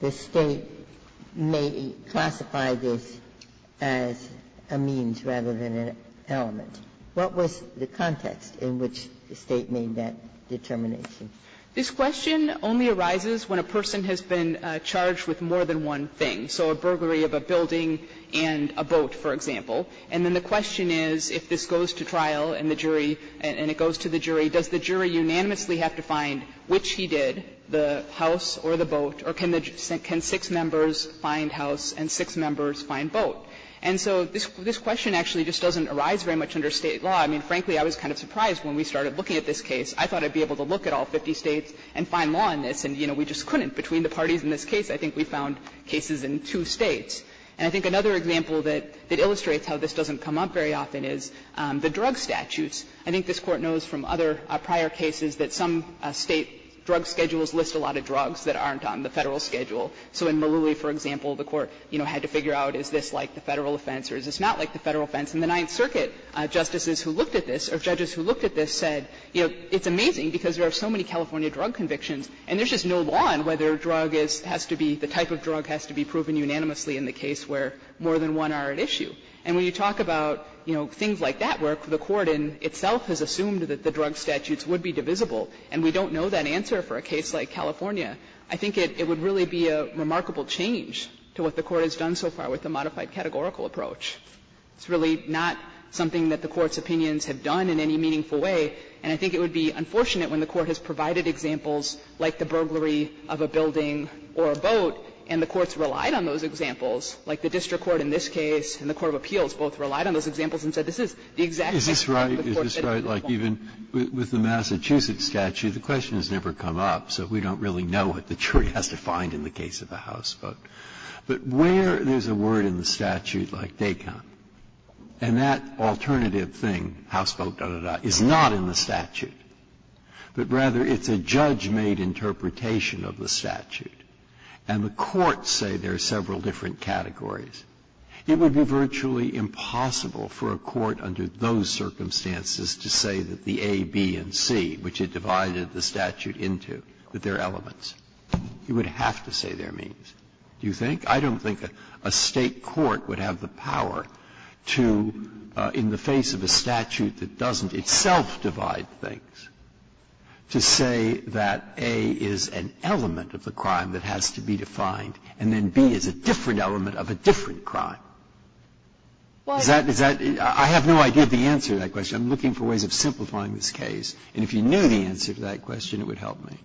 the State may classify this as a means rather than an element, what was the context in which the State made that determination? This question only arises when a person has been charged with more than one thing, so a burglary of a building and a boat, for example. And then the question is, if this goes to trial and the jury, and it goes to the jury, does the jury unanimously have to find which he did, the house or the boat, or can the jury find six members find house and six members find boat? And so this question actually just doesn't arise very much under State law. I mean, frankly, I was kind of surprised when we started looking at this case. I thought I'd be able to look at all 50 States and find law in this, and, you know, we just couldn't. Between the parties in this case, I think we found cases in two States. And I think another example that illustrates how this doesn't come up very often is the drug statutes. I think this Court knows from other prior cases that some State drug schedules list a lot of drugs that aren't on the Federal schedule. So in Maloui, for example, the Court, you know, had to figure out, is this like the Federal offense or is this not like the Federal offense. In the Ninth Circuit, justices who looked at this, or judges who looked at this said, you know, it's amazing because there are so many California drug convictions, and there's just no law on whether a drug has to be the type of drug has to be proven unanimously in the case where more than one are at issue. And when you talk about, you know, things like that where the Court in itself has assumed that the drug statutes would be divisible, and we don't know that answer for a case like California, I think it would really be a remarkable change to what the Court has done so far with the modified categorical approach. It's really not something that the Court's opinions have done in any meaningful way, and I think it would be unfortunate when the Court has provided examples like the burglary of a building or a boat, and the Courts relied on those examples, like the district court in this case and the court of appeals both relied on those examples and said this is the exact same thing that the Court said at that point. Breyer's right, like even with the Massachusetts statute, the question has never come up, so we don't really know what the jury has to find in the case of the houseboat. But where there's a word in the statute like DACOM, and that alternative thing, houseboat, da, da, da, is not in the statute, but rather it's a judge-made interpretation of the statute, and the courts say there are several different categories, it would be virtually impossible for a court under those circumstances to say that the A, B, and C, which it divided the statute into, that they are elements. You would have to say they are means. Do you think? I don't think a State court would have the power to, in the face of a statute that doesn't itself divide things, to say that A is an element of the crime that has to be defined, and then B is a different element of a different crime. Is that the answer? I have no idea the answer to that question. I'm looking for ways of simplifying this case, and if you knew the answer to that question, it would help me.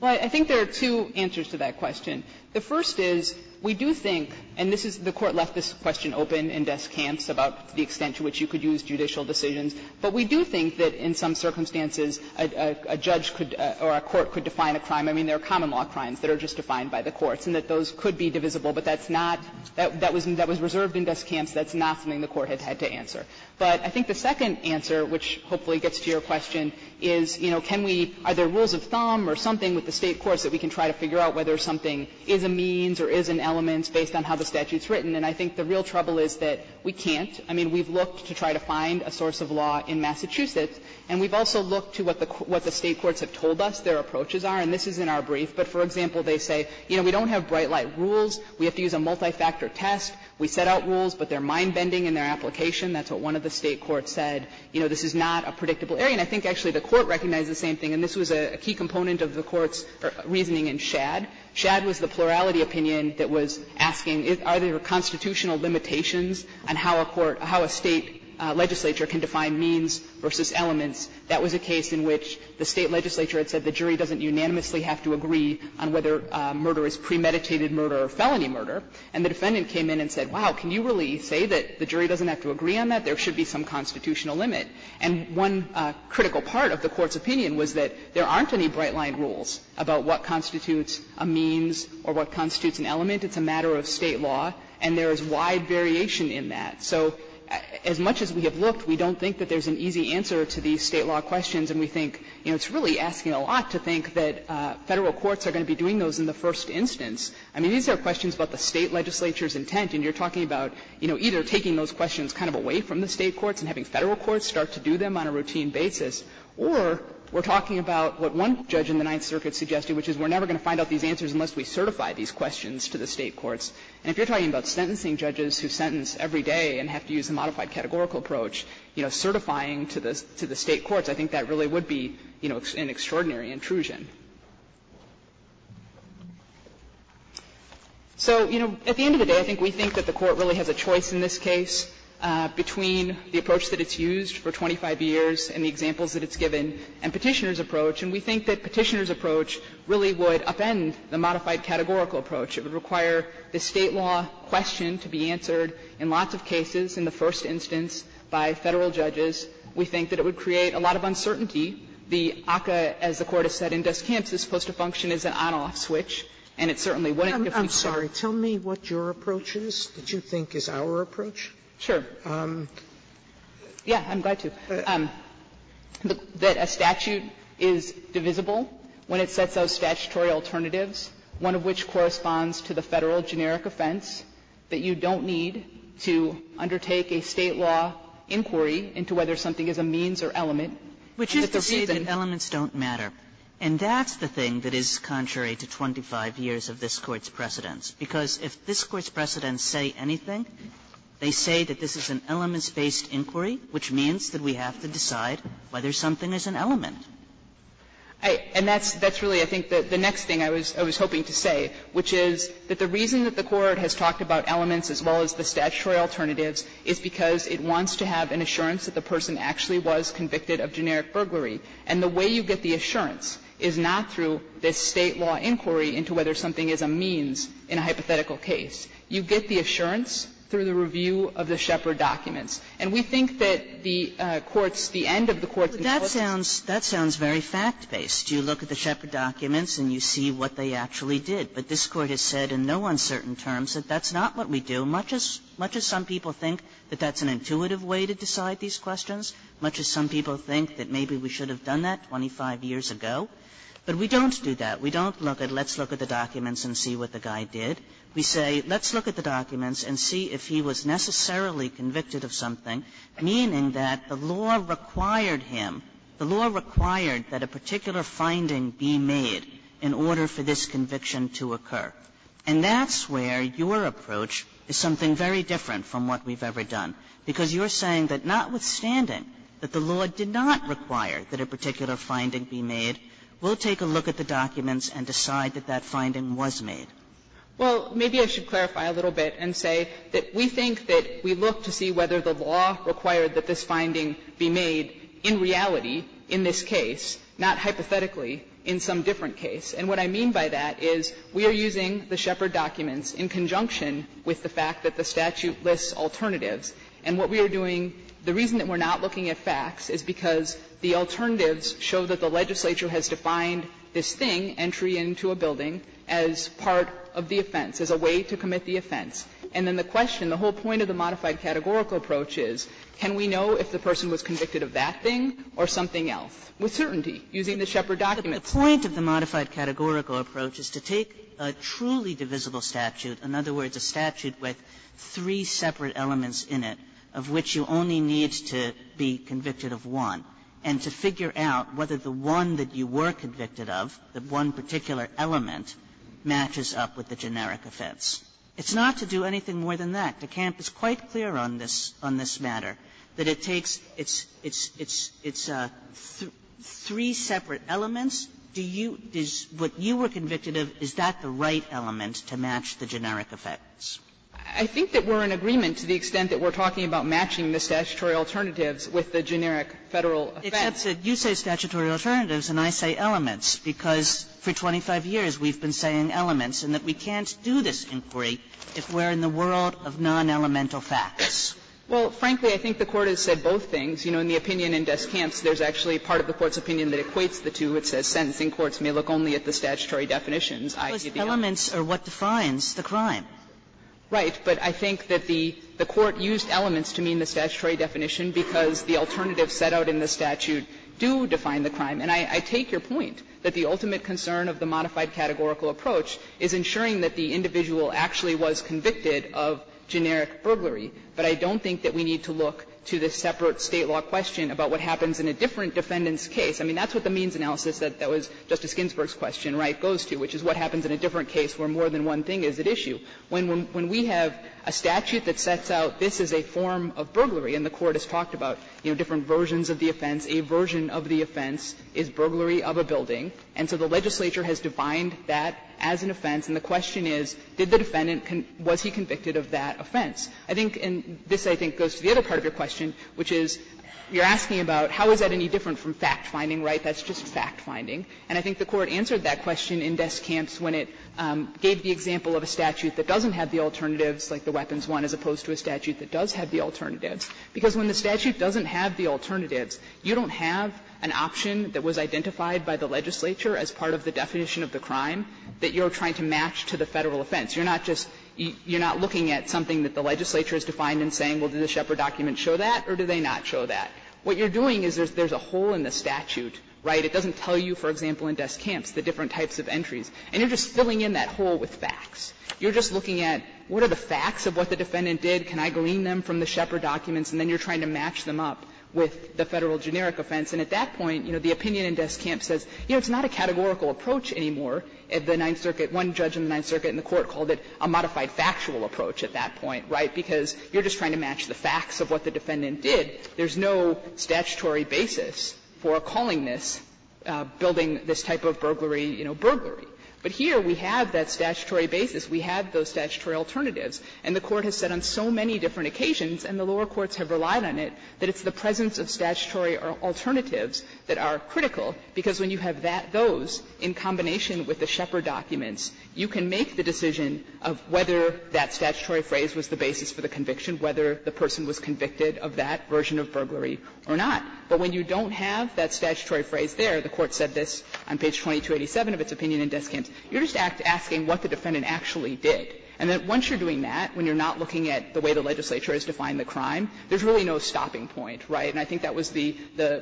Well, I think there are two answers to that question. The first is, we do think, and this is the Court left this question open in Des Camps about the extent to which you could use judicial decisions, but we do think that in some circumstances a judge could or a court could define a crime. I mean, there are common law crimes that are just defined by the courts, and that those could be divisible, but that's not, that was reserved in Des Camps, that's not something the Court had had to answer. But I think the second answer, which hopefully gets to your question, is, you know, can we, are there rules of thumb or something with the State courts that we can try to figure out whether something is a means or is an element based on how the statute is written, and I think the real trouble is that we can't. I mean, we've looked to try to find a source of law in Massachusetts, and we've also looked to what the State courts have told us their approaches are, and this is in our brief, but, for example, they say, you know, we don't have bright light rules, we have to use a multi-factor test, we set out rules, but they're mind-bending in their application. That's what one of the State courts said. You know, this is not a predictable area. And I think actually the Court recognized the same thing, and this was a key component of the Court's reasoning in Shad. Shad was the plurality opinion that was asking, are there constitutional limitations on how a court, how a State legislature can define means versus elements. That was a case in which the State legislature had said the jury doesn't unanimously have to agree on whether murder is premeditated murder or felony murder, and the defendant came in and said, wow, can you really say that the jury doesn't have to agree on that? There should be some constitutional limit. And one critical part of the Court's opinion was that there aren't any bright light rules about what constitutes a means or what constitutes an element. It's a matter of State law, and there is wide variation in that. So as much as we have looked, we don't think that there's an easy answer to these State law questions, and we think, you know, it's really asking a lot to think that Federal courts are going to be doing those in the first instance. I mean, these are questions about the State legislature's intent, and you're talking about, you know, either taking those questions kind of away from the State courts and having Federal courts start to do them on a routine basis, or we're talking about what one judge in the Ninth Circuit suggested, which is we're never going to find out these answers unless we certify these questions to the State courts. And if you're talking about sentencing judges who sentence every day and have to use a modified categorical approach, you know, certifying to the State courts, I think that really would be, you know, an extraordinary intrusion. So, you know, at the end of the day, I think we think that the Court really has a choice in this case between the approach that it's used for 25 years and the examples that it's given, and Petitioner's approach, and we think that Petitioner's approach really would upend the modified categorical approach. It would require the State law question to be answered in lots of cases in the first instance by Federal judges. We think that it would create a lot of uncertainty. The ACCA, as the Court has said, in dust camps, is supposed to function as an on-off switch, and it certainly wouldn't if we started. Sotomayor, tell me what your approach is that you think is our approach. Sure. Yeah, I'm glad to. That a statute is divisible when it sets out statutory alternatives, one of which corresponds to the Federal generic offense, that you don't need to undertake a State law inquiry into whether something is a means or element. Which is to say that elements don't matter. And that's the thing that is contrary to 25 years of this Court's precedence, because if this Court's precedents say anything, they say that this is an elements-based inquiry, which means that we have to decide whether something is an element. And that's really, I think, the next thing I was hoping to say, which is that the reason that the Court has talked about elements as well as the statutory alternatives is because it wants to have an assurance that the person actually was convicted of generic burglary. And the way you get the assurance is not through this State law inquiry into whether something is a means in a hypothetical case. You get the assurance through the review of the Shepard documents. And we think that the Court's, the end of the Court's analysis is that the Shepard documents are not a means. And we think in certain terms that that's not what we do, much as some people think that that's an intuitive way to decide these questions, much as some people think that maybe we should have done that 25 years ago. But we don't do that. We don't look at let's look at the documents and see what the guy did. We say let's look at the documents and see if he was necessarily convicted of something, meaning that the law required him, the law required that a particular finding be made in order for this conviction to occur. And that's where your approach is something very different from what we've ever done, because you're saying that notwithstanding that the law did not require that a particular finding be made, we'll take a look at the documents and decide that that finding was made. Well, maybe I should clarify a little bit and say that we think that we look to see whether the law required that this finding be made in reality in this case, not hypothetically in some different case. And what I mean by that is we are using the Shepard documents in conjunction with the fact that the statute lists alternatives. And what we are doing, the reason that we're not looking at facts is because the alternatives show that the legislature has defined this thing, entry into a building, as part of the offense, as a way to commit the offense. And then the question, the whole point of the modified categorical approach is can we know if the person was convicted of that thing or something else with certainty using the Shepard documents? The point of the modified categorical approach is to take a truly divisible statute, in other words, a statute with three separate elements in it, of which you only need to be convicted of one, and to figure out whether the one that you were convicted of, the one particular element, matches up with the generic offense. It's not to do anything more than that. DeCamp is quite clear on this, on this matter, that it takes, it's, it's, it's, it's three separate elements. Do you, is, what you were convicted of, is that the right element to match the generic offense? I think that we're in agreement to the extent that we're talking about matching the statutory alternatives with the generic Federal offense. It's not that you say statutory alternatives and I say elements, because for 25 years we've been saying elements, and that we can't do this inquiry if we're in the world of non-elemental facts. Well, frankly, I think the Court has said both things. You know, in the opinion in DeCamp's, there's actually part of the Court's opinion that equates the two. It says sentencing courts may look only at the statutory definitions. I give you that. Kagan. But elements are what defines the crime. Right. But I think that the, the Court used elements to mean the statutory definition because the alternatives set out in the statute do define the crime. And I, I take your point that the ultimate concern of the modified categorical approach is ensuring that the individual actually was convicted of generic burglary. But I don't think that we need to look to the separate State law question about what happens in a different defendant's case. I mean, that's what the means analysis that, that was Justice Ginsburg's question, right, goes to, which is what happens in a different case where more than one thing is at issue. When, when we have a statute that sets out this is a form of burglary, and the Court has talked about, you know, different versions of the offense, a version of the offense is burglary of a building, and so the legislature has defined that as an offense, and the question is, did the defendant, was he convicted of that offense? I think, and this I think goes to the other part of your question, which is, you're asking about how is that any different from fact-finding, right? That's just fact-finding. And I think the Court answered that question in Desk Camps when it gave the example of a statute that doesn't have the alternatives, like the Weapons I, as opposed to a statute that does have the alternatives. Because when the statute doesn't have the alternatives, you don't have an option that was identified by the legislature as part of the definition of the crime that you're trying to match to the Federal offense. You're not just, you're not looking at something that the legislature has defined and saying, well, did the Shepard document show that, or did they not show that? What you're doing is there's a hole in the statute, right? It doesn't tell you, for example, in Desk Camps the different types of entries. And you're just filling in that hole with facts. You're just looking at what are the facts of what the defendant did, can I glean them from the Shepard documents, and then you're trying to match them up with the Federal generic offense. And at that point, you know, the opinion in Desk Camps says, you know, it's not a categorical approach anymore. The Ninth Circuit, one judge in the Ninth Circuit in the court called it a modified factual approach at that point, right, because you're just trying to match the facts of what the defendant did. There's no statutory basis for calling this, building this type of burglary, you know, burglary. But here we have that statutory basis. We have those statutory alternatives. And the Court has said on so many different occasions, and the lower courts have relied on it, that it's the presence of statutory alternatives that are critical, because when you have that, those, in combination with the Shepard documents, you can make the decision of whether that statutory phrase was the basis for the conviction, whether the person was convicted of that version of burglary or not. But when you don't have that statutory phrase there, the Court said this on page 2287 of its opinion in Desk Camps, you're just asking what the defendant actually did. And that once you're doing that, when you're not looking at the way the legislature has defined the crime, there's really no stopping point, right? And I think that was the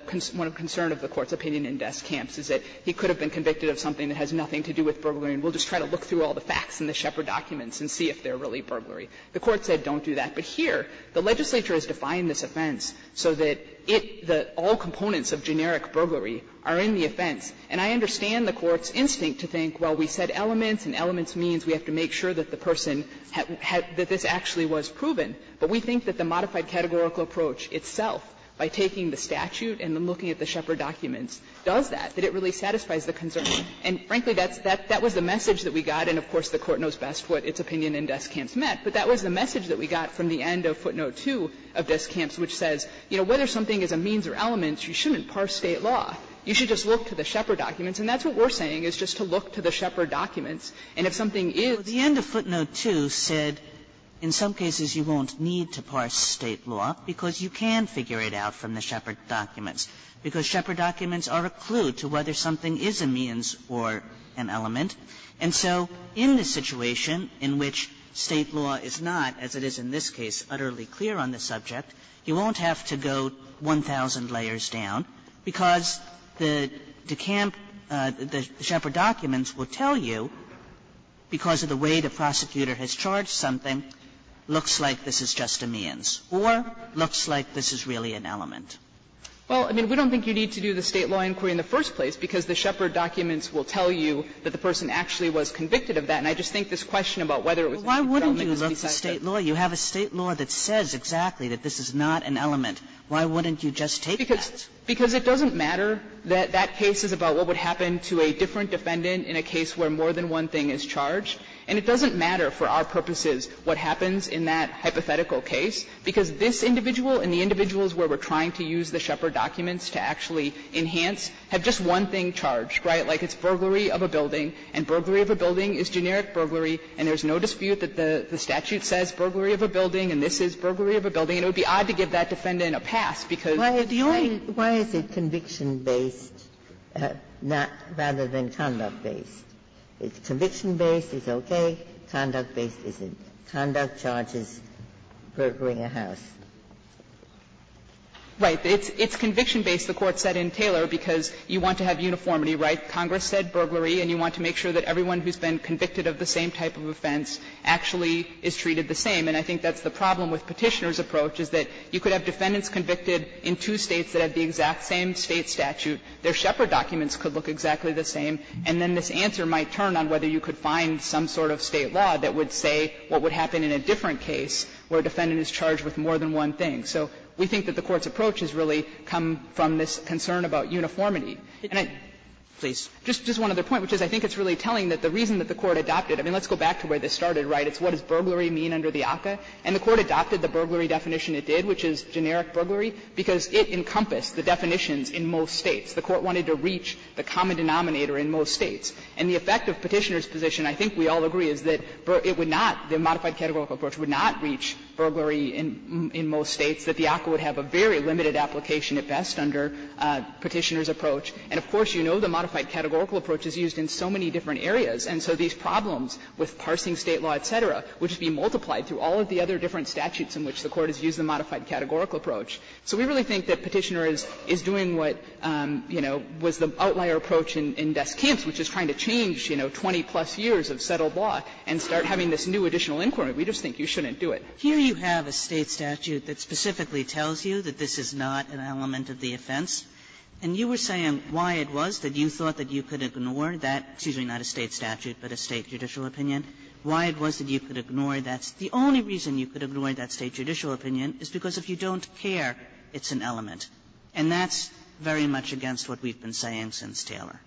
concern of the Court's opinion in Desk Camps, is that he could have been convicted of something that has nothing to do with burglary, and we'll just try to look through all the facts in the Shepard documents and see if they're really burglary. The Court said don't do that. But here, the legislature has defined this offense so that it, the all components of generic burglary are in the offense. And I understand the Court's instinct to think, well, we said elements, and elements means we have to make sure that the person had, that this actually was proven. But we think that the modified categorical approach itself, by taking the statute and then looking at the Shepard documents, does that, that it really satisfies the concern. And frankly, that's, that was the message that we got, and of course, the Court knows best what its opinion in Desk Camps meant. But that was the message that we got from the end of footnote 2 of Desk Camps, which says, you know, whether something is a means or elements, you shouldn't parse State law. You should just look to the Shepard documents. And that's what we're saying, is just to look to the Shepard documents. And if something is. So the end of footnote 2 said in some cases you won't need to parse State law, because you can figure it out from the Shepard documents. Because Shepard documents are a clue to whether something is a means or an element. And so in the situation in which State law is not, as it is in this case, utterly clear on the subject, you won't have to go 1,000 layers down because the Desk Camps, the Shepard documents will tell you, because of the way in which they are charged, the way the prosecutor has charged something, looks like this is just a means or looks like this is really an element. Well, I mean, we don't think you need to do the State law inquiry in the first place, because the Shepard documents will tell you that the person actually was convicted of that. And I just think this question about whether it was a means or an element doesn't make sense. Kagan. You have a State law that says exactly that this is not an element. Why wouldn't you just take that? Because it doesn't matter that that case is about what would happen to a different defendant in a case where more than one thing is charged, and it doesn't matter for our purposes what happens in that hypothetical case, because this individual and the individuals where we're trying to use the Shepard documents to actually enhance have just one thing charged, right? Like it's burglary of a building, and burglary of a building is generic burglary, and there's no dispute that the statute says burglary of a building and this is burglary of a building. And it would be odd to give that defendant a pass, because the only thing why is it conduct-based. It's conviction-based, it's okay. Conduct-based isn't. Conduct charges burglary of a house. Saharsky, it's conviction-based, the Court said in Taylor, because you want to have uniformity, right? Congress said burglary, and you want to make sure that everyone who's been convicted of the same type of offense actually is treated the same. And I think that's the problem with Petitioner's approach, is that you could have defendants convicted in two States that have the exact same State statute. Their Shepard documents could look exactly the same, and then this answer might turn on whether you could find some sort of State law that would say what would happen in a different case where a defendant is charged with more than one thing. So we think that the Court's approach has really come from this concern about uniformity. And I don't know, just one other point, which is I think it's really telling that the reason that the Court adopted it. I mean, let's go back to where this started, right? It's what does burglary mean under the ACCA? And the Court adopted the burglary definition it did, which is generic burglary, because it encompassed the definitions in most States. The Court wanted to reach the common denominator in most States. And the effect of Petitioner's position, I think we all agree, is that it would not, the modified categorical approach would not reach burglary in most States, that the ACCA would have a very limited application at best under Petitioner's approach. And of course, you know the modified categorical approach is used in so many different areas. And so these problems with parsing State law, et cetera, would be multiplied through all of the other different statutes in which the Court has used the modified categorical approach. So we really think that Petitioner is doing what, you know, was the outlier approach in desk camps, which is trying to change, you know, 20-plus years of settled law, and start having this new additional inquiry. We just think you shouldn't do it. Kagan, here you have a State statute that specifically tells you that this is not an element of the offense. And you were saying why it was that you thought that you could ignore that, excuse me, not a State statute, but a State judicial opinion, why it was that you could ignore that. The only reason you could ignore that State judicial opinion is because if you don't care, it's an element. And that's very much against what we've been saying since Taylor.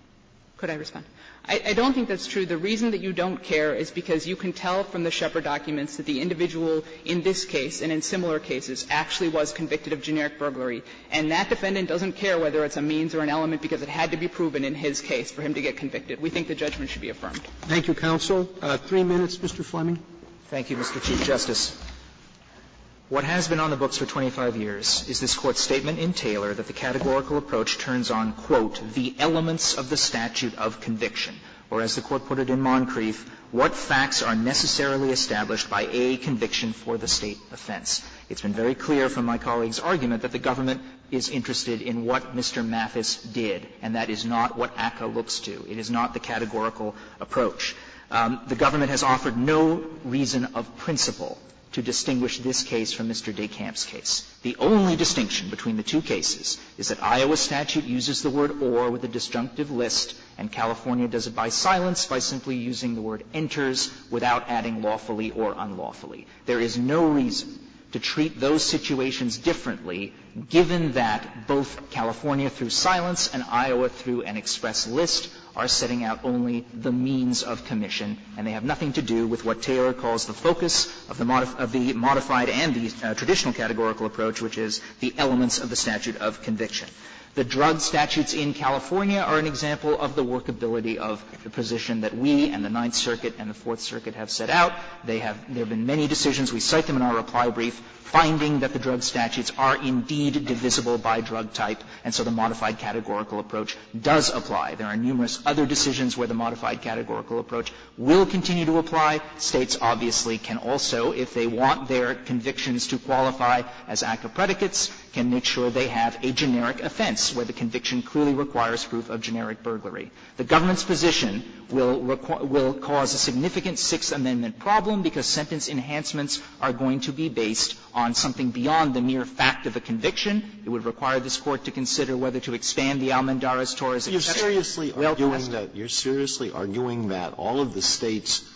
Could I respond? I don't think that's true. The reason that you don't care is because you can tell from the Shepard documents that the individual in this case and in similar cases actually was convicted of generic burglary. And that defendant doesn't care whether it's a means or an element because it had to be proven in his case for him to get convicted. We think the judgment should be affirmed. Thank you, counsel. Three minutes, Mr. Fleming. Thank you, Mr. Chief Justice. What has been on the books for 25 years is this Court's statement in Taylor that the categorical approach turns on, quote, the elements of the statute of conviction. Or as the Court put it in Moncrief, what facts are necessarily established by a conviction for the State offense. It's been very clear from my colleague's argument that the government is interested in what Mr. Mathis did, and that is not what ACCA looks to. It is not the categorical approach. The government has offered no reason of principle to distinguish this case from Mr. DeKamp's case. The only distinction between the two cases is that Iowa statute uses the word or with a disjunctive list, and California does it by silence by simply using the word enters without adding lawfully or unlawfully. There is no reason to treat those situations differently, given that both California through silence and Iowa through an express list are setting out only the means of commission, and they have nothing to do with what Taylor calls the focus of the modified and the traditional categorical approach, which is the elements of the statute of conviction. The drug statutes in California are an example of the workability of the position that we and the Ninth Circuit and the Fourth Circuit have set out. They have been many decisions. We cite them in our reply brief, finding that the drug statutes are indeed divisible by drug type, and so the modified categorical approach does apply. There are numerous other decisions where the modified categorical approach will continue to apply. States obviously can also, if they want their convictions to qualify as active predicates, can make sure they have a generic offense where the conviction clearly requires proof of generic burglary. The government's position will cause a significant Sixth Amendment problem because sentence enhancements are going to be based on something beyond the mere fact of a conviction. It would require this Court to consider whether to expand the Almandara's exception. Alito, you're seriously arguing that all of the States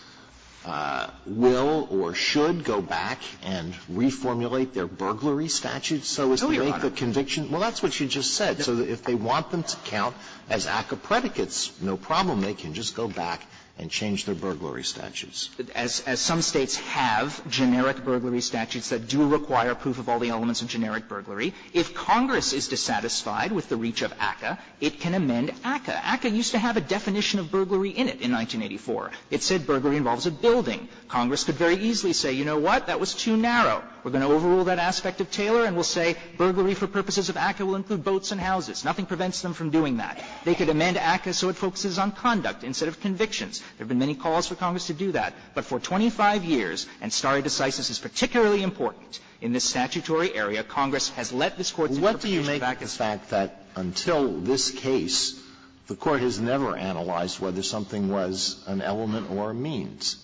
will or should go back and reformulate their burglary statutes so as to make the conviction? No, Your Honor. Well, that's what you just said. So if they want them to count as ACCA predicates, no problem. They can just go back and change their burglary statutes. As some States have generic burglary statutes that do require proof of all the elements of generic burglary, if Congress is dissatisfied with the reach of ACCA, it can ameliorate and amend ACCA. ACCA used to have a definition of burglary in it in 1984. It said burglary involves a building. Congress could very easily say, you know what, that was too narrow. We're going to overrule that aspect of Taylor and we'll say burglary for purposes of ACCA will include boats and houses. Nothing prevents them from doing that. They could amend ACCA so it focuses on conduct instead of convictions. There have been many calls for Congress to do that, but for 25 years, and stare decisis is particularly important in this statutory area, Congress has let this Court's interpretation back. Alito, I think the fact that until this case, the Court has never analyzed whether something was an element or a means.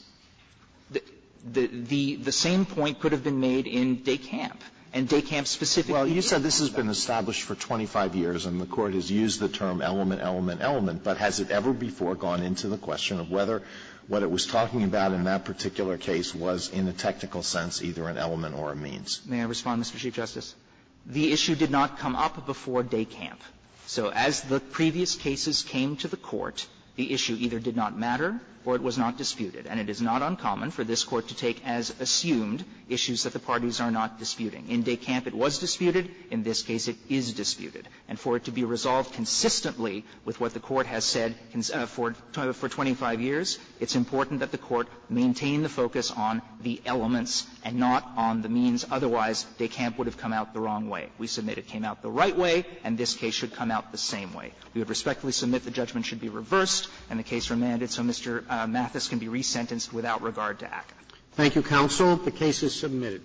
The same point could have been made in DECAMP, and DECAMP specifically said that. Well, you said this has been established for 25 years and the Court has used the term element, element, element, but has it ever before gone into the question of whether what it was talking about in that particular case was in a technical sense either an element or a means? May I respond, Mr. Chief Justice? The issue did not come up before DECAMP. So as the previous cases came to the Court, the issue either did not matter or it was not disputed. And it is not uncommon for this Court to take as assumed issues that the parties are not disputing. In DECAMP it was disputed. In this case it is disputed. And for it to be resolved consistently with what the Court has said for 25 years, it's important that the Court maintain the focus on the elements and not on the means. Otherwise, DECAMP would have come out the wrong way. We submit it came out the right way, and this case should come out the same way. We would respectfully submit the judgment should be reversed and the case remanded so Mr. Mathis can be resentenced without regard to ACCA. Roberts' Thank you, counsel. The case is submitted.